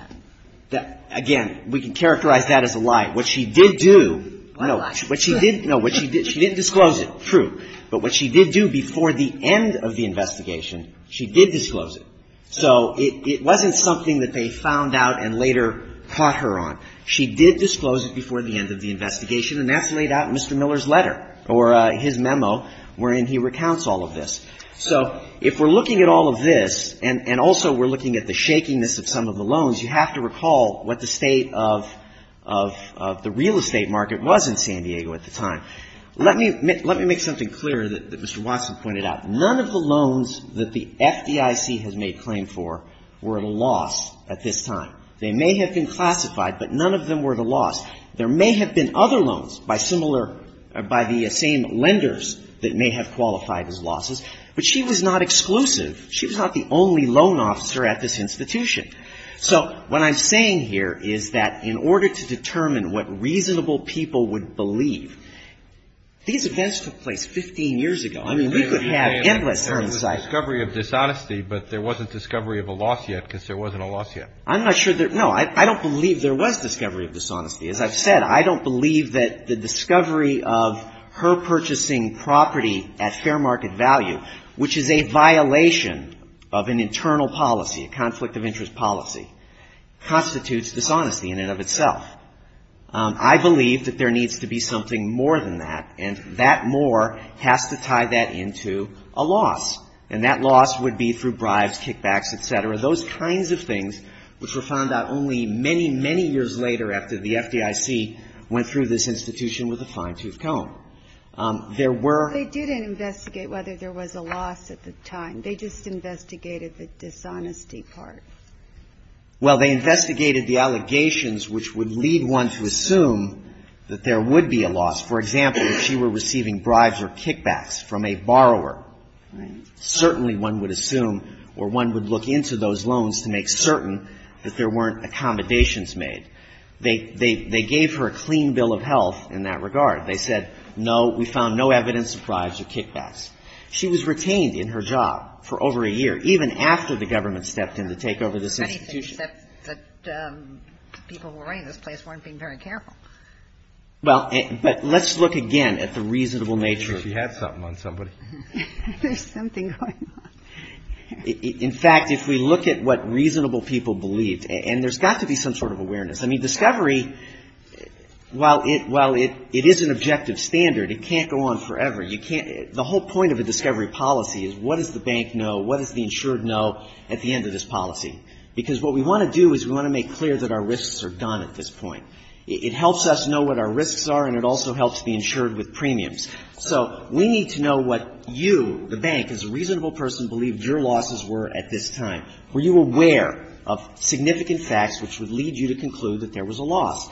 that. Again, we can characterize that as a lie. What she did do... No, what she did, no, what she did, she did disclose it, true. But what she did do before the end of the investigation, she did disclose it. So, it wasn't something that they found out and later caught her on. She did disclose it before the end of the investigation, and that's laid out in Mr. Miller's letter, or his memo, wherein he recounts all of this. So, if we're looking at all of this, and also we're looking at the shakiness of some of the loans, you have to recall what the state of the real estate market was in San Diego at the time. Let me make something clear that Mr. Watson pointed out. None of the loans that the FDIC has made claim for were lost at this time. They may have been classified, but none of them were the loss. There may have been other loans by the same lenders that may have qualified as losses, but she was not exclusive. She was not the only loan officer at this institution. So, what I'm saying here is that in order to determine what reasonable people would believe... These events took place 15 years ago. I mean, we could have endless terms like... There was a discovery of dishonesty, but there wasn't discovery of a loss yet, because there wasn't a loss yet. I'm not sure that... No, I don't believe there was discovery of dishonesty. As I've said, I don't believe that the discovery of her purchasing property at fair market value, which is a violation of an internal policy, a conflict of interest policy, constitutes dishonesty in and of itself. I believe that there needs to be something more than that, and that more has to tie that into a loss. And that loss would be through bribes, kickbacks, etc. Those kinds of things which were found out only many, many years later after the FDIC went through this institution with a fine-tooth comb. There were... They didn't investigate whether there was a loss at this time. They just investigated the dishonesty part. Well, they investigated the allegations which would lead one to assume that there would be a loss. For example, if she were receiving bribes or kickbacks from a borrower, certainly one would assume, or one would look into those loans to make certain that there weren't accommodations made. They gave her a clean bill of health in that regard. They said, no, we found no evidence of bribes or kickbacks. She was retained in her job for over a year, even after the government stepped in to take over this institution. Well, but let's look again at the reasonable nature... In fact, if we look at what reasonable people believe, and there's got to be some sort of awareness. I mean, discovery, while it is an objective standard, it can't go on forever. You can't... The whole point of a discovery policy is what does the bank know, what does the insured know at the end of this policy? Because what we want to do is we want to make clear that our risks are done at this point. It helps us know what our risks are, and it also helps the insured with premiums. So, we need to know what you, the bank, as a reasonable person, believed your losses were at this time. Were you aware of significant facts which would lead you to conclude that there was a loss?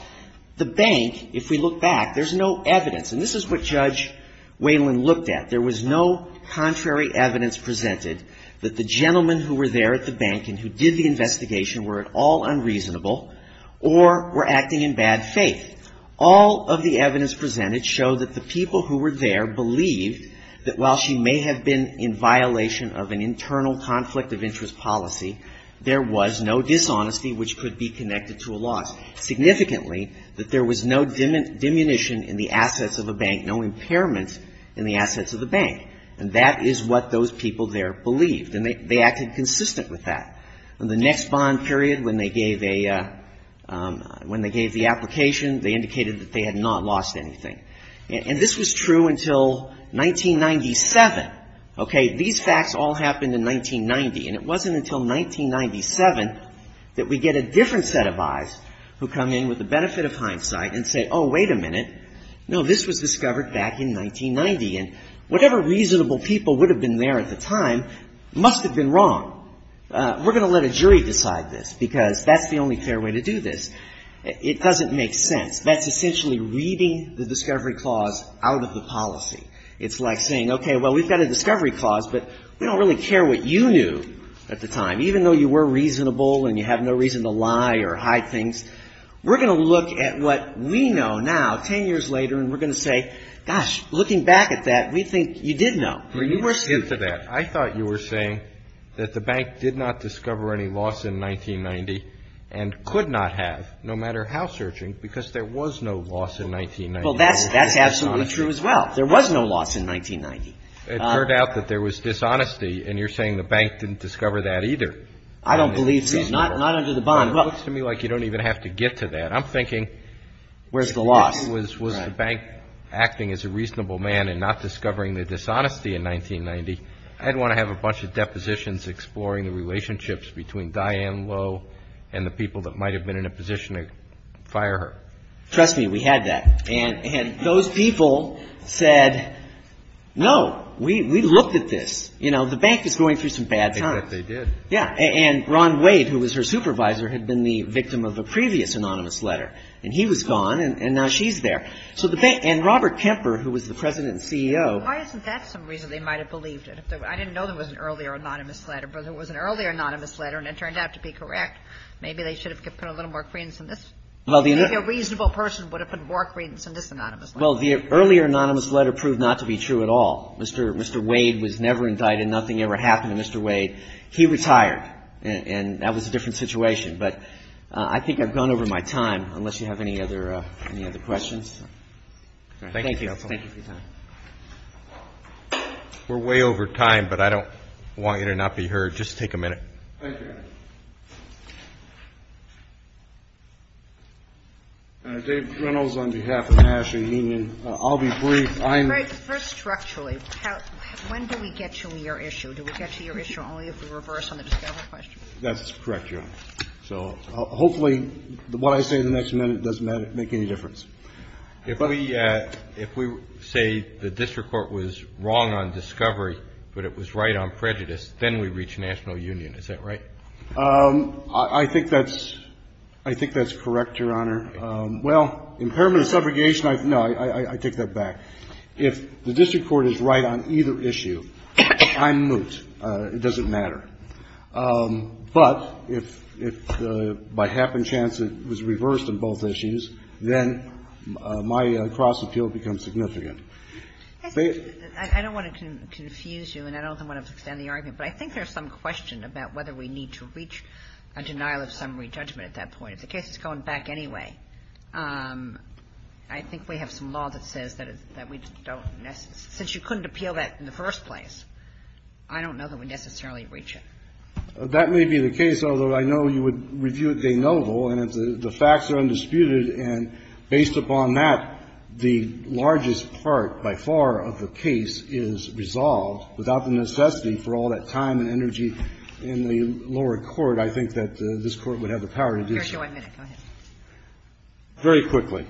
The bank, if we look back, there's no evidence. And this is what Judge Whalen looked at. There was no contrary evidence presented that the gentlemen who were there at the bank and who did the investigation were at all unreasonable or were acting in bad faith. All of the evidence presented showed that the people who were there believed that while she may have been in violation of an internal conflict of interest policy, there was no dishonesty which could be connected to a loss. Significantly, that there was no diminution in the assets of the bank, no impairment in the assets of the bank. And that is what those people there believed, and they acted consistent with that. In the next bond period, when they gave the application, they indicated that they had not lost anything. And this was true until 1997. These facts all happened in 1990, and it wasn't until 1997 that we get a different set of eyes who come in with the benefit of hindsight and say, oh, wait a minute. No, this was discovered back in 1990, and whatever reasonable people would have been there at the time must have been wrong. We're going to let a jury decide this, because that's the only fair way to do this. It doesn't make sense. That's essentially reading the discovery clause out of the policy. It's like saying, okay, well, we've got a discovery clause, but we don't really care what you knew at the time. Even though you were reasonable and you have no reason to lie or hide things, we're going to look at what we know now, 10 years later, and we're going to say, gosh, looking back at that, we think you did know. I thought you were saying that the bank did not discover any loss in 1990 and could not have, no matter how searching, because there was no loss in 1990. Well, that's absolutely true as well. There was no loss in 1990. It turned out that there was dishonesty, and you're saying the bank didn't discover that either. I don't believe so. Not under the bond. Well, it seems like you don't even have to get to that. I'm thinking, if the question was, was the bank acting as a reasonable man and not discovering the dishonesty in 1990, I'd want to have a bunch of depositions exploring the relationships between Diane Lowe and the people that might have been in a position to fire her. Trust me, we had that. And those people said, no, we looked at this. The bank is going through some bad times. They did. And Ron Wade, who was her supervisor, had been the victim of a previous anonymous letter. And he was gone, and now she's there. And Robert Kemper, who was the president and CEO. Why isn't that some reason they might have believed it? I didn't know there was an earlier anonymous letter, but there was an earlier anonymous letter, and it turned out to be correct. Maybe they should have put a little more credence in this. Maybe a reasonable person would have put more credence in this anonymous letter. Well, the earlier anonymous letter proved not to be true at all. Mr. Wade was never indicted. Nothing ever happened to Mr. Wade. He retired, and that was a different situation. But I think I've gone over my time, unless you have any other questions. Thank you. We're way over time, but I don't want you to not be heard. Just take a minute. Thank you. David Reynolds on behalf of the National Union. I'll be brief. First, structurally, when do we get to your issue? Do we get to your issue only if we reverse on the discovery question? That's correct, Jim. So hopefully what I say in the next minute doesn't make any difference. If we say the district court was wrong on discovery, but it was right on prejudice, then we reach National Union. Is that right? I think that's correct, Your Honor. Well, in permanent subrogation, no, I take that back. If the district court is right on either issue, I'm moot. It doesn't matter. But if by happenstance it was reversed on both issues, then my cross-appeal becomes significant. I don't want to confuse you, and I don't want to extend the argument, but I think there's some question about whether we need to reach a denial of summary judgment at that point. If the case is going back anyway, I think we have some law that says that we don't necessarily. Since you couldn't appeal that in the first place, I don't know that we necessarily reach it. That may be the case, although I know you would review it de novo, and the facts are undisputed. And based upon that, the largest part, by far, of the case is resolved without the necessity for all that time and energy in the lower court. I think that this court would have the power to do so. Very quickly.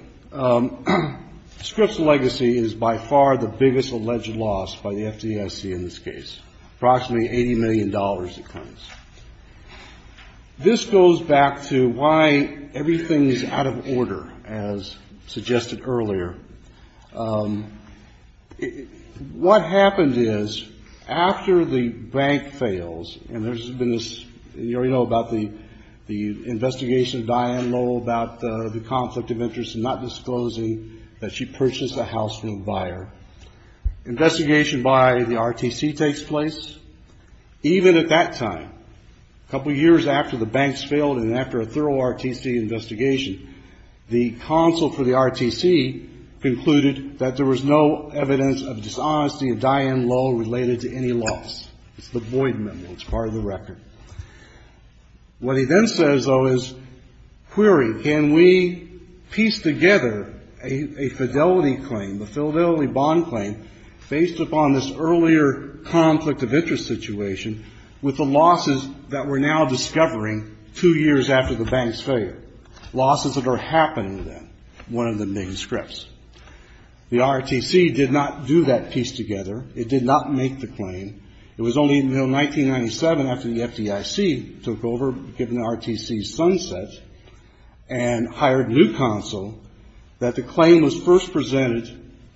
Scripps' legacy is by far the biggest alleged loss by the FDIC in this case. Approximately $80 million in fines. This goes back to why everything is out of order, as suggested earlier. What happens is, after the bank fails, and there's been this, you already know about the investigation of Diane Lowell about the conflict of interest and not disclosing that she purchased a house from a buyer. Investigation by the RTC takes place. Even at that time, a couple years after the banks failed and after a thorough RTC investigation, the counsel for the RTC concluded that there was no evidence of dishonesty of Diane Lowell related to any loss. It's the Boyd memo. It's part of the record. What he then says, though, is, query, can we piece together a fidelity claim, a fidelity bond claim, based upon this earlier conflict of interest situation with the losses that we're now discovering two years after the banks failed? Losses that are happening then. One of the main scripts. The RTC did not do that piece together. It did not make the claim. It was only until 1997, after the FDIC took over, given the RTC's sunset, and hired new counsel, that the claim was first presented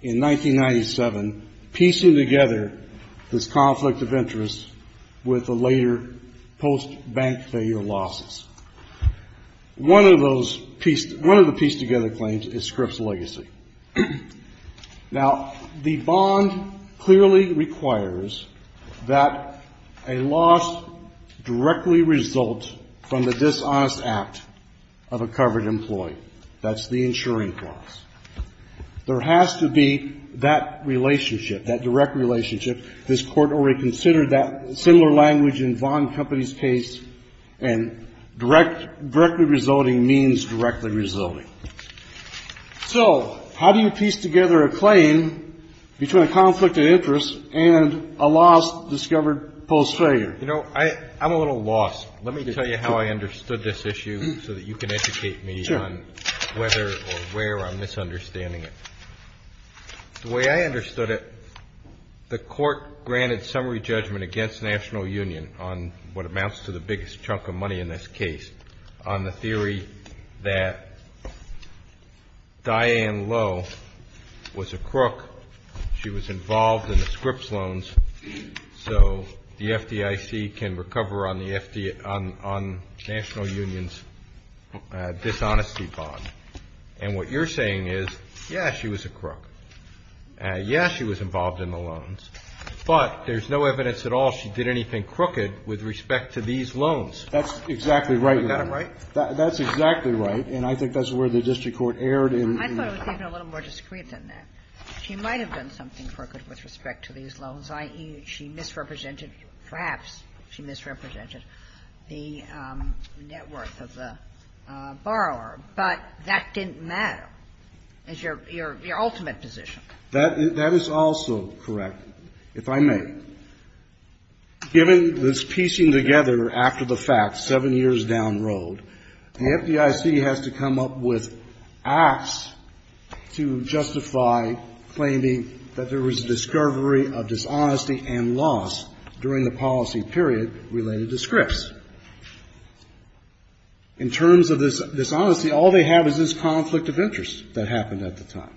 in 1997, piecing together this conflict of interest with the later post-bank failure losses. One of the piece together claims is Scripps Legacy. Now, the bond clearly requires that a loss directly result from the dishonest act of a covered employee. That's the insuring clause. There has to be that relationship, that direct relationship. This court already considered that similar language in bond companies' case, and directly resulting means directly resulting. So, how do you piece together a claim between a conflict of interest and a loss discovered post-failure? You know, I'm a little lost. Let me tell you how I understood this issue so that you can educate me on whether or where I'm misunderstanding it. The way I understood it, the court granted summary judgment against National Union on what amounts to the biggest chunk of money in this case, on the theory that Diane Lowe was a crook. She was involved in the Scripps loans, so the FDIC can recover on National Union's dishonesty bond. And what you're saying is, yes, she was a crook. Yes, she was involved in the loans. But there's no evidence at all she did anything crooked with respect to these loans. That's exactly right. Is that right? That's exactly right. And I think that's where the district court erred in that. I thought it was even a little more discreet than that. She might have done something crooked with respect to these loans, i.e., she misrepresented, perhaps she misrepresented, the net worth of the borrower. But that didn't matter as your ultimate decision. That is also correct, if I may. Given this piecing together after the fact, seven years down the road, the FDIC has to come up with acts to justify claiming that there was a discovery of dishonesty and loss during the policy period related to Scripps. In terms of this dishonesty, all they have is this conflict of interest that happened at the time.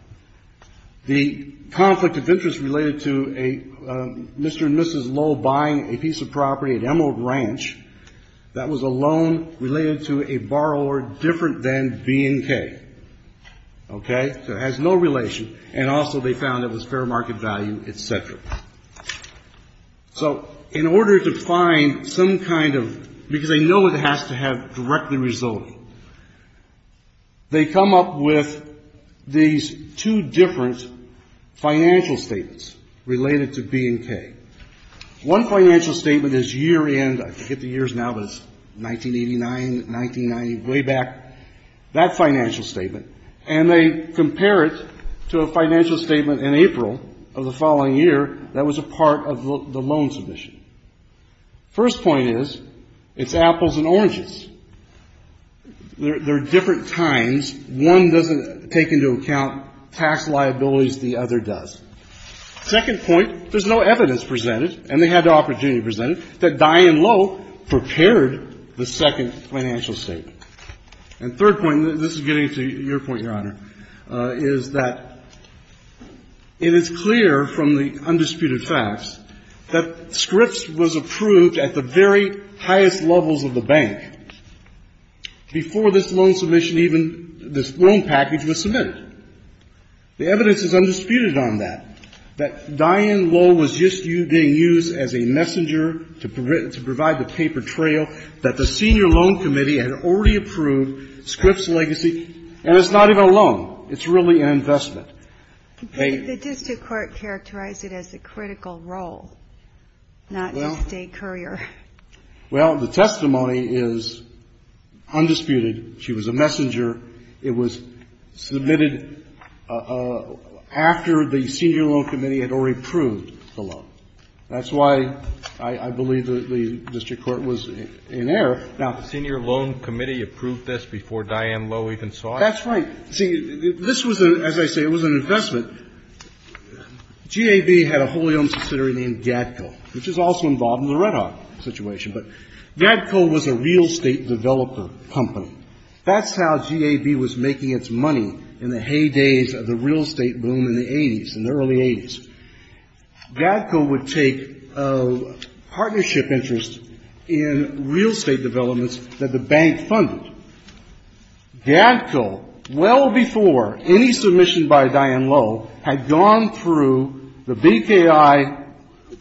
The conflict of interest related to a Mr. and Mrs. Lowe buying a piece of property, an emerald ranch, that was a loan related to a borrower different than B and K. Okay? So it has no relation. And also they found that it was fair market value, et cetera. So, in order to find some kind of, because they know it has to have direct result, they come up with these two different financial statements related to B and K. One financial statement is year end, I forget the years now, but 1989, 1990, way back, that financial statement. And they compare it to a financial statement in April of the following year that was a part of the loan submission. First point is, it's apples and oranges. They're different kinds. One doesn't take into account tax liabilities, the other does. Second point, there's no evidence presented, and they had the opportunity to present it, that Diane Lowe prepared the second financial statement. And third point, this is getting to your point, Your Honor, is that it is clear from the undisputed facts that Scripps was approved at the very highest levels of the bank. Before this loan submission even, this loan package was submitted. The evidence is undisputed on that, that Diane Lowe was just being used as a messenger to provide the tapered trail, that the senior loan committee had already approved Scripps' legacy, and it's not even a loan. It's really an investment. The district court characterized it as a critical role, not just a courier. Well, the testimony is undisputed. She was a messenger. It was submitted after the senior loan committee had already approved the loan. That's why I believe that the district court was in error. Now, the senior loan committee approved this before Diane Lowe even saw it? That's right. See, this was, as I say, it was an investment. GAB had a wholly owned subsidiary named GADCO, which is also involved in the Red Hawk situation. But GADCO was a real estate developer company. That's how GAB was making its money in the heydays of the real estate boom in the 80s, in the early 80s. GADCO would take partnership interest in real estate developments that the bank funded. GADCO, well before any submission by Diane Lowe, had gone through the BPI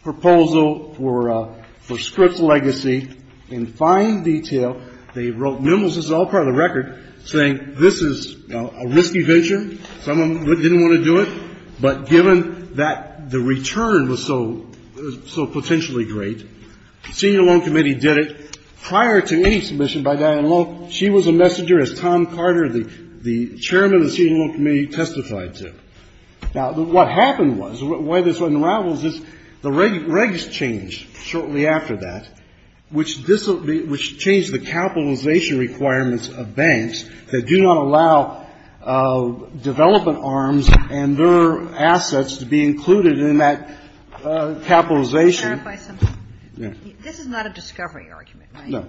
proposal for Scripps' legacy in fine detail. They wrote memos, this is all part of the record, saying this is a risky venture. Some of them didn't want to do it. But given that the return was so potentially great, the senior loan committee did it. Prior to any submission by Diane Lowe, she was a messenger, as Tom Carter, the chairman of the senior loan committee, testified to. Now, what happened was, why this unravels is the regs changed shortly after that, which changed the capitalization requirements of banks that do not allow development arms and their assets to be included in that capitalization. This is not a discovery argument, right? No.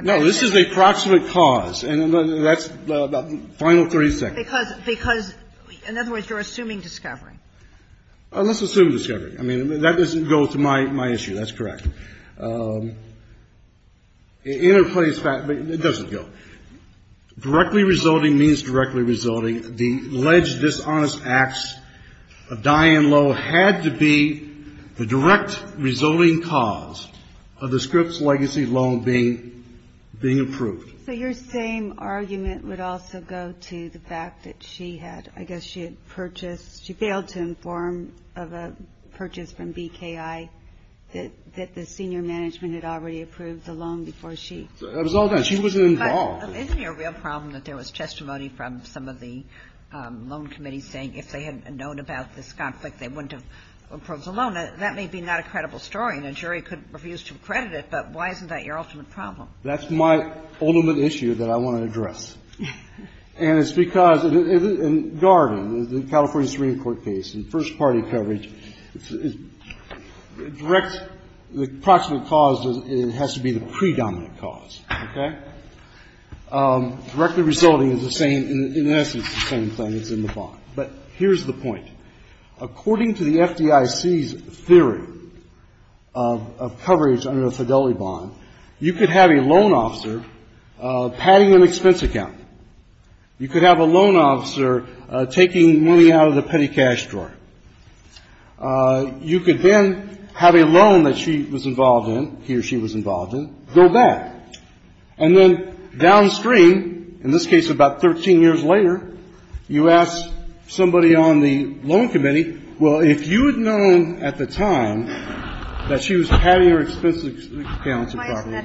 No, this is a proximate cause. And that's the final three seconds. Because, in other words, you're assuming discovery. Let's assume discovery. I mean, that doesn't go with my issue. That's correct. It interplays, but it doesn't go. Directly resulting means directly resulting. The alleged dishonest acts of Diane Lowe had to be the direct resulting cause of the Scripps' legacy loan being approved. So your same argument would also go to the fact that she had, I guess she had purchased, she failed to inform of a purchase from BKI, that the senior management had already approved the loan before she. It was all good. She wasn't involved. Isn't it a real problem that there was testimony from some of the loan committees saying if they had known about this conflict, they wouldn't have approved the loan? That may be not a credible story, and the jury could refuse to accredit it, but why isn't that your ultimate problem? That's my ultimate issue that I want to address. And it's because, in Garden, the California Supreme Court case, in first-party coverage, direct, the possible cause has to be the predominant cause. Okay? Directly resulting is the same, in essence, the same thing as in the bond. But here's the point. According to the FDIC's theory of coverage under a fidelity bond, you could have a loan officer padding an expense account. You could have a loan officer taking money out of the petty cash drawer. You could then have a loan that she was involved in, he or she was involved in, go back. And then downstream, in this case about 13 years later, you ask somebody on the loan committee, well, if you had known at the time that she was padding her expense account in California.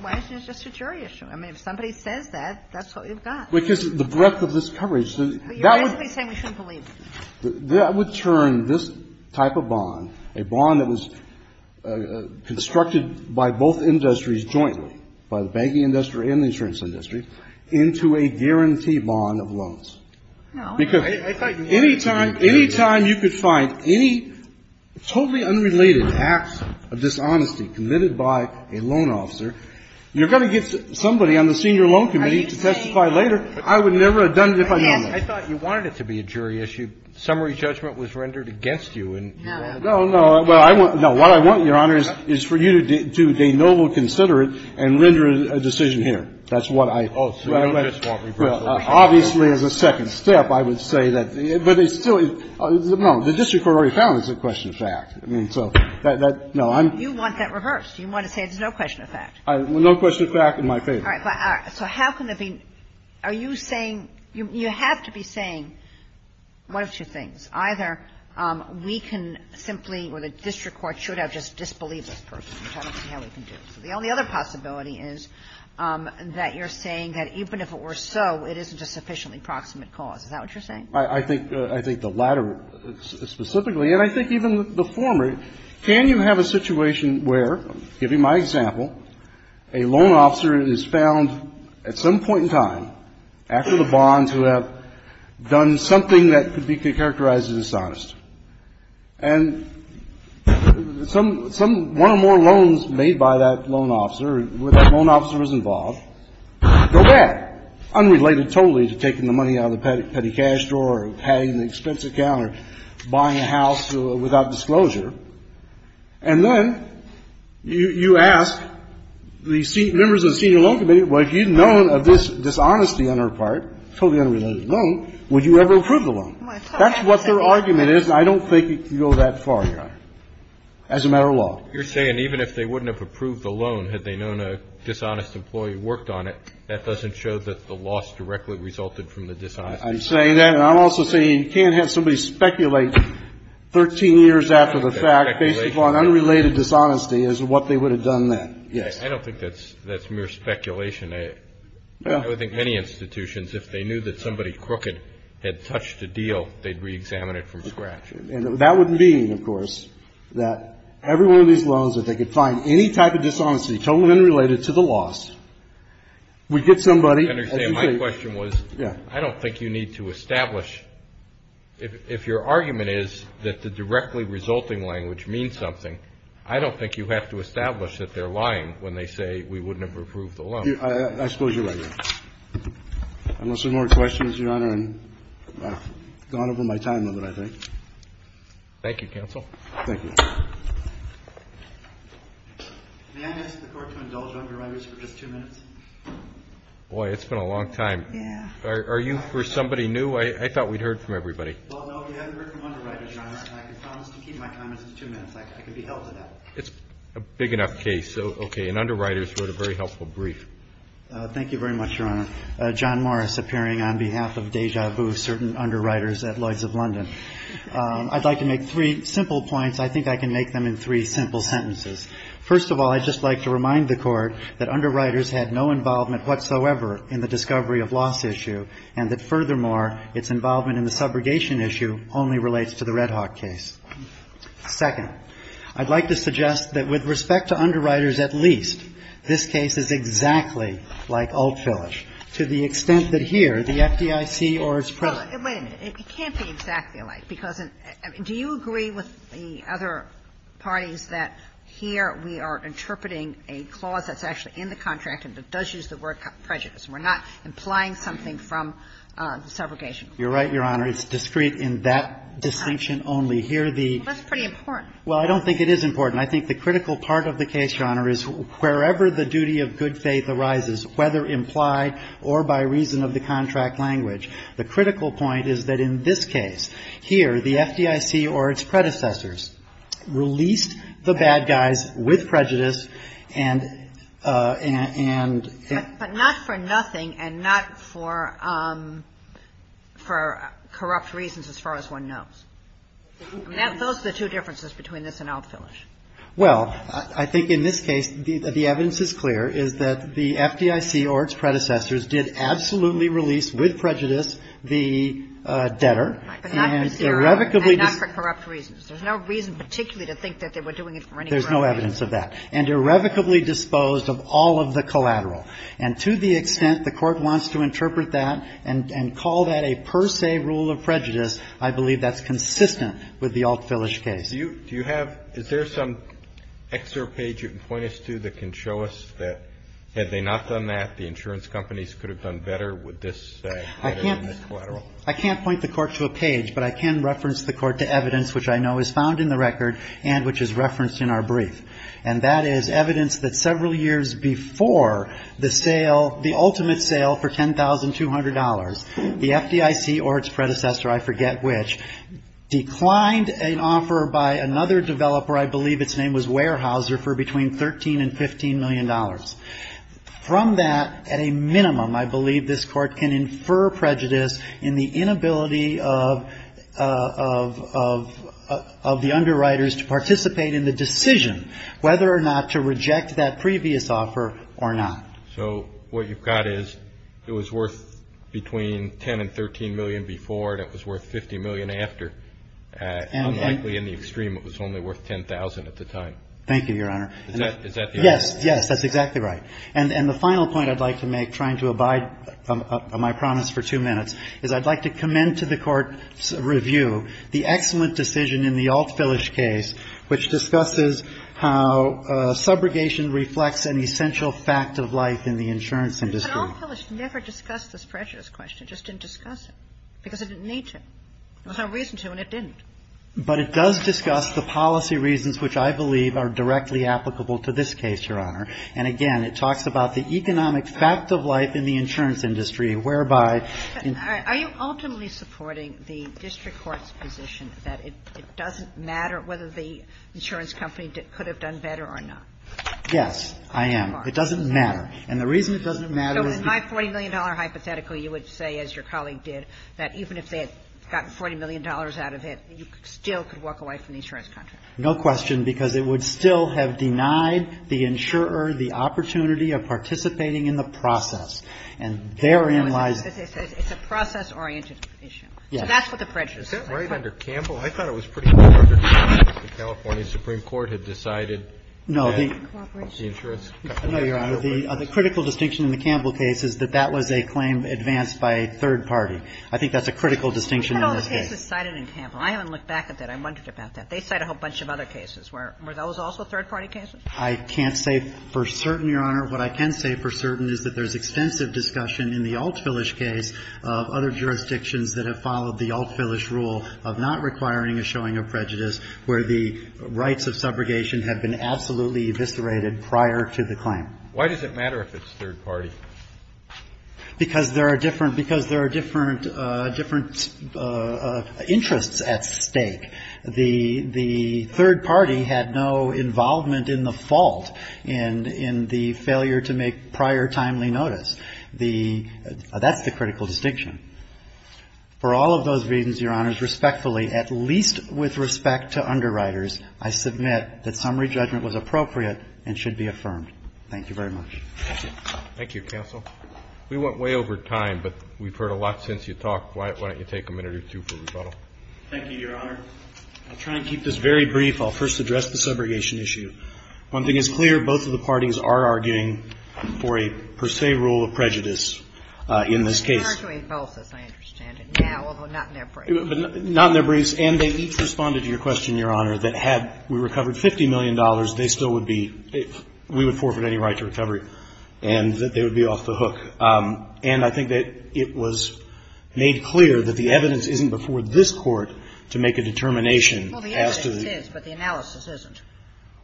Why is this just a jury issue? I mean, if somebody says that, that's what you've got. Because of the breadth of this coverage. That would turn this type of bond, a bond that was constructed by both industries jointly, by the banking industry and the insurance industry, into a guaranteed bond of loans. Because any time you could find any totally unrelated acts of dishonesty committed by a loan officer, you're going to get somebody on the senior loan committee to testify later. I would never have done it if I knew. I thought you wanted it to be a jury issue. Summary judgment was rendered against you. No, no. What I want, Your Honor, is for you to do de novo considerate and render a decision here. That's what I. Obviously, there's a second step, I would say. But it still is. No, the district court already found it's a question of fact. You want that reversed. You want to say it's no question of fact. No question of fact in my favor. All right. So how can there be. Are you saying. You have to be saying one of two things. Either we can simply or the district court should have just disbelieved this person. The only other possibility is that you're saying that even if it were so, it isn't a sufficiently proximate cause. Is that what you're saying? I think the latter specifically. And I think even the former. Can you have a situation where, give you my example, a loan officer is found at some point in time, after the bonds, who have done something that could be characterized as dishonest. And one or more loans made by that loan officer, where that loan officer was involved, go back, unrelated totally to taking the money out of the petty cash drawer or having an expense account or buying a house without disclosure. And then you ask the members of the senior loan committee, well, if you'd known of this dishonesty on her part, totally unrelated to the loan, would you ever approve the loan? That's what their argument is, and I don't think it can go that far, as a matter of law. You're saying even if they wouldn't have approved the loan had they known a dishonest employee worked on it, that doesn't show that the loss directly resulted from the dishonesty. I'm saying that. And I'm also saying you can't have somebody speculate 13 years after the fact, based upon unrelated dishonesty, as to what they would have done then. Yeah, I don't think that's mere speculation. I would think many institutions, if they knew that somebody crooked had touched a deal, they'd reexamine it from scratch. And that would mean, of course, that every one of these loans, if they could find any type of dishonesty totally unrelated to the loss, we'd get somebody. I understand. My question was, I don't think you need to establish, if your argument is that the directly resulting language means something, I don't think you have to establish that they're lying when they say we wouldn't have approved the loan. I suppose you're right. Unless there are more questions, Your Honor, I've gone over my time limit, I think. Thank you, counsel. Thank you. May I ask the court to indulge underwriters for just two minutes? Boy, it's been a long time. Yeah. Are you for somebody new? I thought we'd heard from everybody. Well, no, we haven't heard from underwriters, Your Honor. I promise to keep my comments to two minutes. I can be held to that. It's a big enough case. So, okay. And underwriters wrote a very helpful brief. Thank you very much, Your Honor. John Morris, appearing on behalf of Deja Vu, certain underwriters at Lloyd's of London. I'd like to make three simple points. I think I can make them in three simple sentences. First of all, I'd just like to remind the court that underwriters had no involvement whatsoever in the discovery of loss issue, and that, furthermore, its involvement in the subrogation issue only relates to the Redhawk case. Second, I'd like to suggest that, with respect to underwriters at least, this case is exactly like Alt Filish, to the extent that here, the FDIC or its president. Wait a minute. It can't be exactly like. Do you agree with the other parties that here we are interpreting a clause that's actually in the contract and that does use the word prejudice? We're not implying something from the subrogation? You're right, Your Honor. It's discrete in that distinction only. That's pretty important. Well, I don't think it is important. I think the critical part of the case, Your Honor, is wherever the duty of good faith arises, whether implied or by reason of the contract language, the critical point is that, in this case, here the FDIC or its predecessors released the bad guys with prejudice and... But not for nothing and not for corrupt reasons as far as one knows. Those are the two differences between this and Alt Filish. Well, I think in this case the evidence is clear, is that the FDIC or its predecessors did absolutely release with prejudice the debtor and irrevocably... And not for corrupt reasons. There's no reason particularly to think that they were doing it for any... There's no evidence of that. And irrevocably disposed of all of the collateral. And to the extent the Court wants to interpret that and call that a per se rule of prejudice, I believe that's consistent with the Alt Filish case. Is there some excerpt page you can point us to that can show us that had they not done that, the insurance companies could have done better with this collateral? I can't point the Court to a page, but I can reference the Court to evidence which I know is found in the record and which is referenced in our brief. And that is evidence that several years before the sale, the ultimate sale for $10,200, the FDIC or its predecessor, I forget which, declined an offer by another developer, I believe its name was Weyerhaeuser, for between $13 and $15 million. From that, at a minimum, I believe this Court can infer prejudice in the inability of the underwriters to participate in the decision, whether or not to reject that previous offer or not. So what you've got is it was worth between $10 million and $13 million before, and it was worth $50 million after. Unlikely in the extreme, it was only worth $10,000 at the time. Thank you, Your Honor. Is that the answer? Yes, that's exactly right. And the final point I'd like to make, trying to abide by my promise for two minutes, is I'd like to commend to the Court's review the excellent decision in the Alt Filish case, which discusses how subrogation reflects an essential fact of life in the insurance industry. Alt Filish never discussed this prejudice question, just didn't discuss it, because it didn't need to. It was our reason to, and it didn't. But it does discuss the policy reasons which I believe are directly applicable to this case, Your Honor. And again, it talks about the economic fact of life in the insurance industry, whereby... Are you ultimately supporting the district court's position that it doesn't matter whether the insurance company could have done better or not? Yes, I am. It doesn't matter. And the reason it doesn't matter... So with my $40 million hypothetical, you would say, as your colleague did, that even if they had gotten $40 million out of it, you still could walk away from the insurance company? No question, because it would still have denied the insurer the opportunity of participating in the process. And therein lies... It's a process-oriented issue. Yes. So that's what the prejudice is. Is that right under Campbell? I thought it was pretty clear that the California Supreme Court had decided... No, the... ...the insurance company... No, Your Honor. The critical distinction in the Campbell case is that that was a claim advanced by a third party. I think that's a critical distinction in this case. No, the case is cited in Campbell. I haven't looked back at that. I wondered about that. They cite a whole bunch of other cases. Were those also third-party cases? I can't say for certain, Your Honor. What I can say for certain is that there's extensive discussion in the Altsvillage case of other jurisdictions that have followed the Altsvillage rule of not requiring a showing of prejudice, where the rights of subrogation have been absolutely eviscerated prior to the claim. Why does it matter if it's third party? Because there are different interests at stake. The third party had no involvement in the fault in the failure to make prior timely notice. That's the critical distinction. For all of those reasons, Your Honors, respectfully, at least with respect to underwriters, I submit that summary judgment was appropriate and should be affirmed. Thank you very much. Thank you. Thank you, counsel. We went way over time, but we've heard a lot since you talked. Why don't you take a minute or two for rebuttal? Thank you, Your Honor. I'll try and keep this very brief. I'll first address the subrogation issue. One thing is clear. Both of the parties are arguing for a per se rule of prejudice in this case. They're arguing both, as I understand it, now, although not in their briefs. Not in their briefs. And they each responded to your question, Your Honor, that had we recovered $50 million, they still would be – we would forfeit any right to recovery and that they would be off the hook. And I think that it was made clear that the evidence isn't before this Court to make a determination as to the – Well, the evidence is, but the analysis isn't.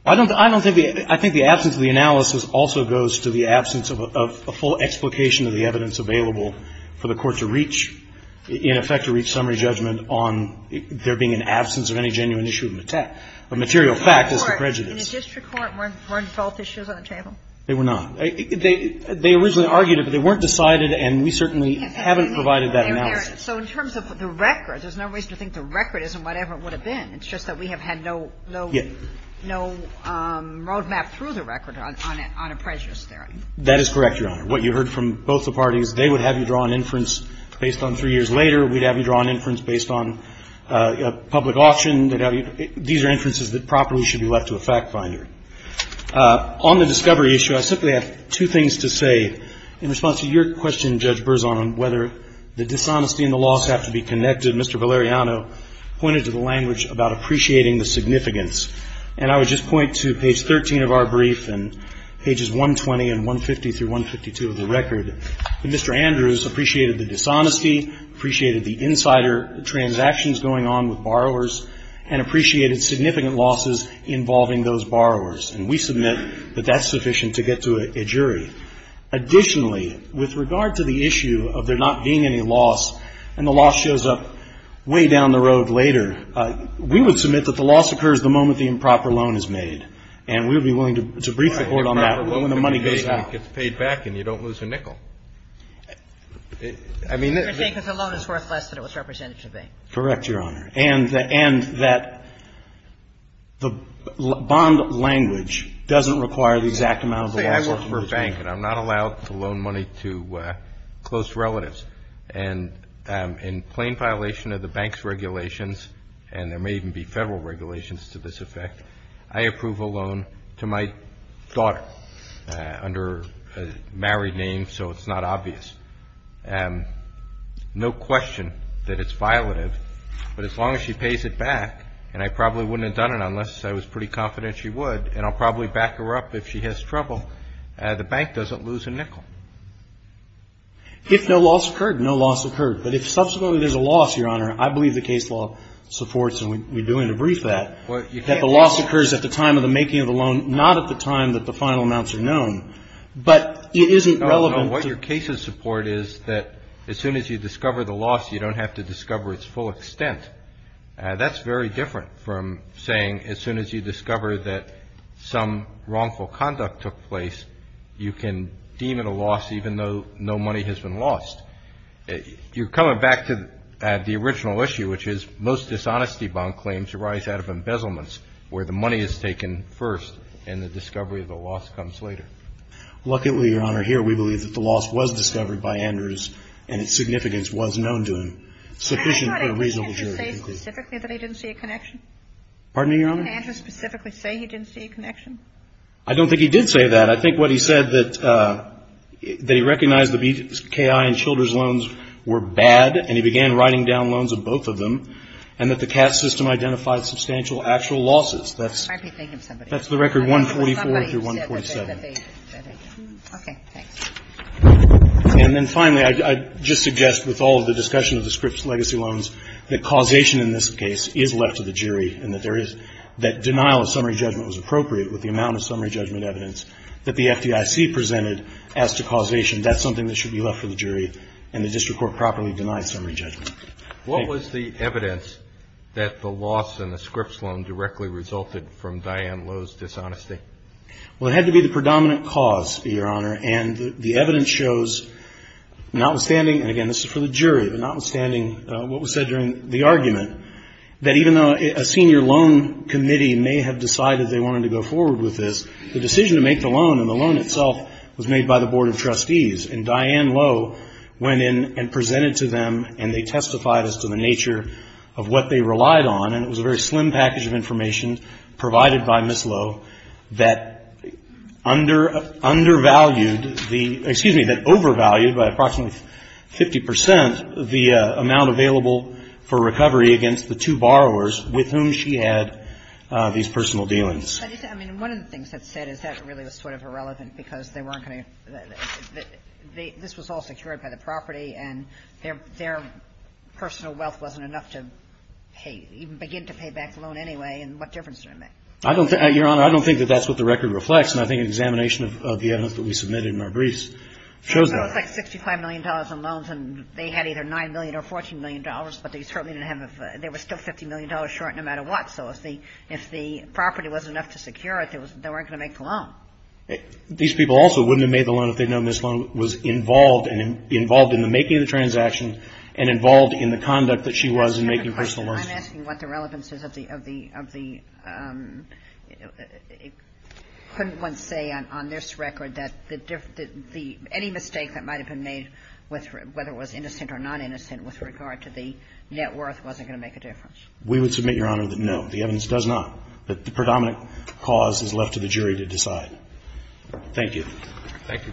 I don't think – I think the absence of the analysis also goes to the absence of a full explication of the evidence available for the Court to reach – in effect to reach summary judgment on there being an absence of any genuine issue of the fact – of material fact as to prejudice. In the district court, weren't – weren't default issues on the table? They were not. They originally argued it, but they weren't decided, and we certainly haven't provided that analysis. So in terms of the records, there's no reason to think the record isn't whatever it would have been. It's just that we have had no – Yes. No roadmap through the record on a prejudice theory. That is correct, Your Honor. What you heard from both the parties, they would have you draw an inference based on three years later. We'd have you draw an inference based on a public auction. These are inferences that properly should be left to a fact finder. On the discovery issue, I simply have two things to say. In response to your question, Judge Berzon, on whether the dishonesty and the loss have to be connected, Mr. Valeriano pointed to the language about appreciating the significance. And I would just point to page 13 of our brief and pages 120 and 150 through 152 of the record. Mr. Andrews appreciated the dishonesty, appreciated the insider transactions going on with borrowers, and appreciated significant losses involving those borrowers. And we submit that that's sufficient to get to a jury. Additionally, with regard to the issue of there not being any loss, and the loss shows up way down the road later, we would submit that the loss occurs the moment the improper loan is made. And we would be willing to brief the Court on that. Well, when the money goes out, it gets paid back, and you don't lose a nickel. I mean – You're saying that the loan is worth less than it was represented to be. Correct, Your Honor. And that the bond language doesn't require the exact amount of the assets. I work for a bank, and I'm not allowed to loan money to close relatives. And in plain violation of the bank's regulations, and there may even be federal regulations to this effect, I approve a loan to my daughter under a married name so it's not obvious. No question that it's violative. But as long as she pays it back, and I probably wouldn't have done it unless I was pretty confident she would, and I'll probably back her up if she has trouble, the bank doesn't lose a nickel. If no loss occurred, no loss occurred. But if subsequently there's a loss, Your Honor, I believe the case law supports, and we do want to brief that, that the loss occurs at the time of the making of the loan, not at the time that the final amounts are known. But it isn't relevant. No, no, what your cases support is that as soon as you discover the loss, you don't have to discover its full extent. That's very different from saying as soon as you discover that some wrongful conduct took place, you can deem it a loss even though no money has been lost. You're coming back to the original issue, which is most dishonesty bond claims arise out of embezzlements, where the money is taken first and the discovery of the loss comes later. Luckily, Your Honor, here we believe that the loss was discovered by Anders and its significance was known to him sufficiently for a reasonable period of time. Did Anders specifically say he didn't see a connection? Pardon me, Your Honor? Did Anders specifically say he didn't see a connection? I don't think he did say that. I think what he said that they recognized the BKI and Childers loans were bad, and he began writing down loans of both of them, and that the CAATS system identified substantial actual losses. That's the record 144 through 147. Okay. And then finally, I just suggest with all of the discussion of the Scripps legacy loans, that causation in this case is left to the jury and that there is that denial of summary judgment was appropriate with the amount of summary judgment evidence that the FDIC presented as to causation. That's something that should be left for the jury, and the district court properly denied summary judgment. What was the evidence that the loss in the Scripps loan directly resulted from Diane Lowe's dishonesty? Well, it had to be the predominant cause, Your Honor, and the evidence shows, notwithstanding, and again, this is for the jury, but notwithstanding what was said during the argument, that even though a senior loan committee may have decided they wanted to go forward with this, the decision to make the loan and the loan itself was made by the Board of Trustees, and Diane Lowe went in and presented to them, and they testified as to the nature of what they relied on, and it was a very slim package of information provided by Ms. Lowe that undervalued the, excuse me, that overvalued by approximately 50% the amount available for recovery against the two borrowers with whom she had these personal dealings. I think, I mean, one of the things that's said is that really was sort of irrelevant, because they weren't going to, this was all secured by the property, and their personal wealth wasn't enough to pay, even begin to pay back the loan anyway, and what difference did it make? I don't, Your Honor, I don't think that that's what the record reflects, and I think an examination of the evidence that we submitted in our briefs shows that. I don't think $65 million in loans, and they had either $9 million or $14 million, but they certainly didn't have, they were still $50 million short no matter what, so if the property wasn't enough to secure it, they weren't going to make the loan. These people also wouldn't have made the loan if they'd known Ms. Lowe was involved, and involved in the making of the transaction, and involved in the conduct that she was in making personal loans. I'm asking what the relevance is of the, of the, of the, could one say on this record that the, any mistake that might have been made, whether it was innocent or non-innocent with regard to the net worth wasn't going to make a difference? We would submit, Your Honor, that no, the evidence does not. The predominant cause is left to the jury to decide. Thank you. Thank you, counsel.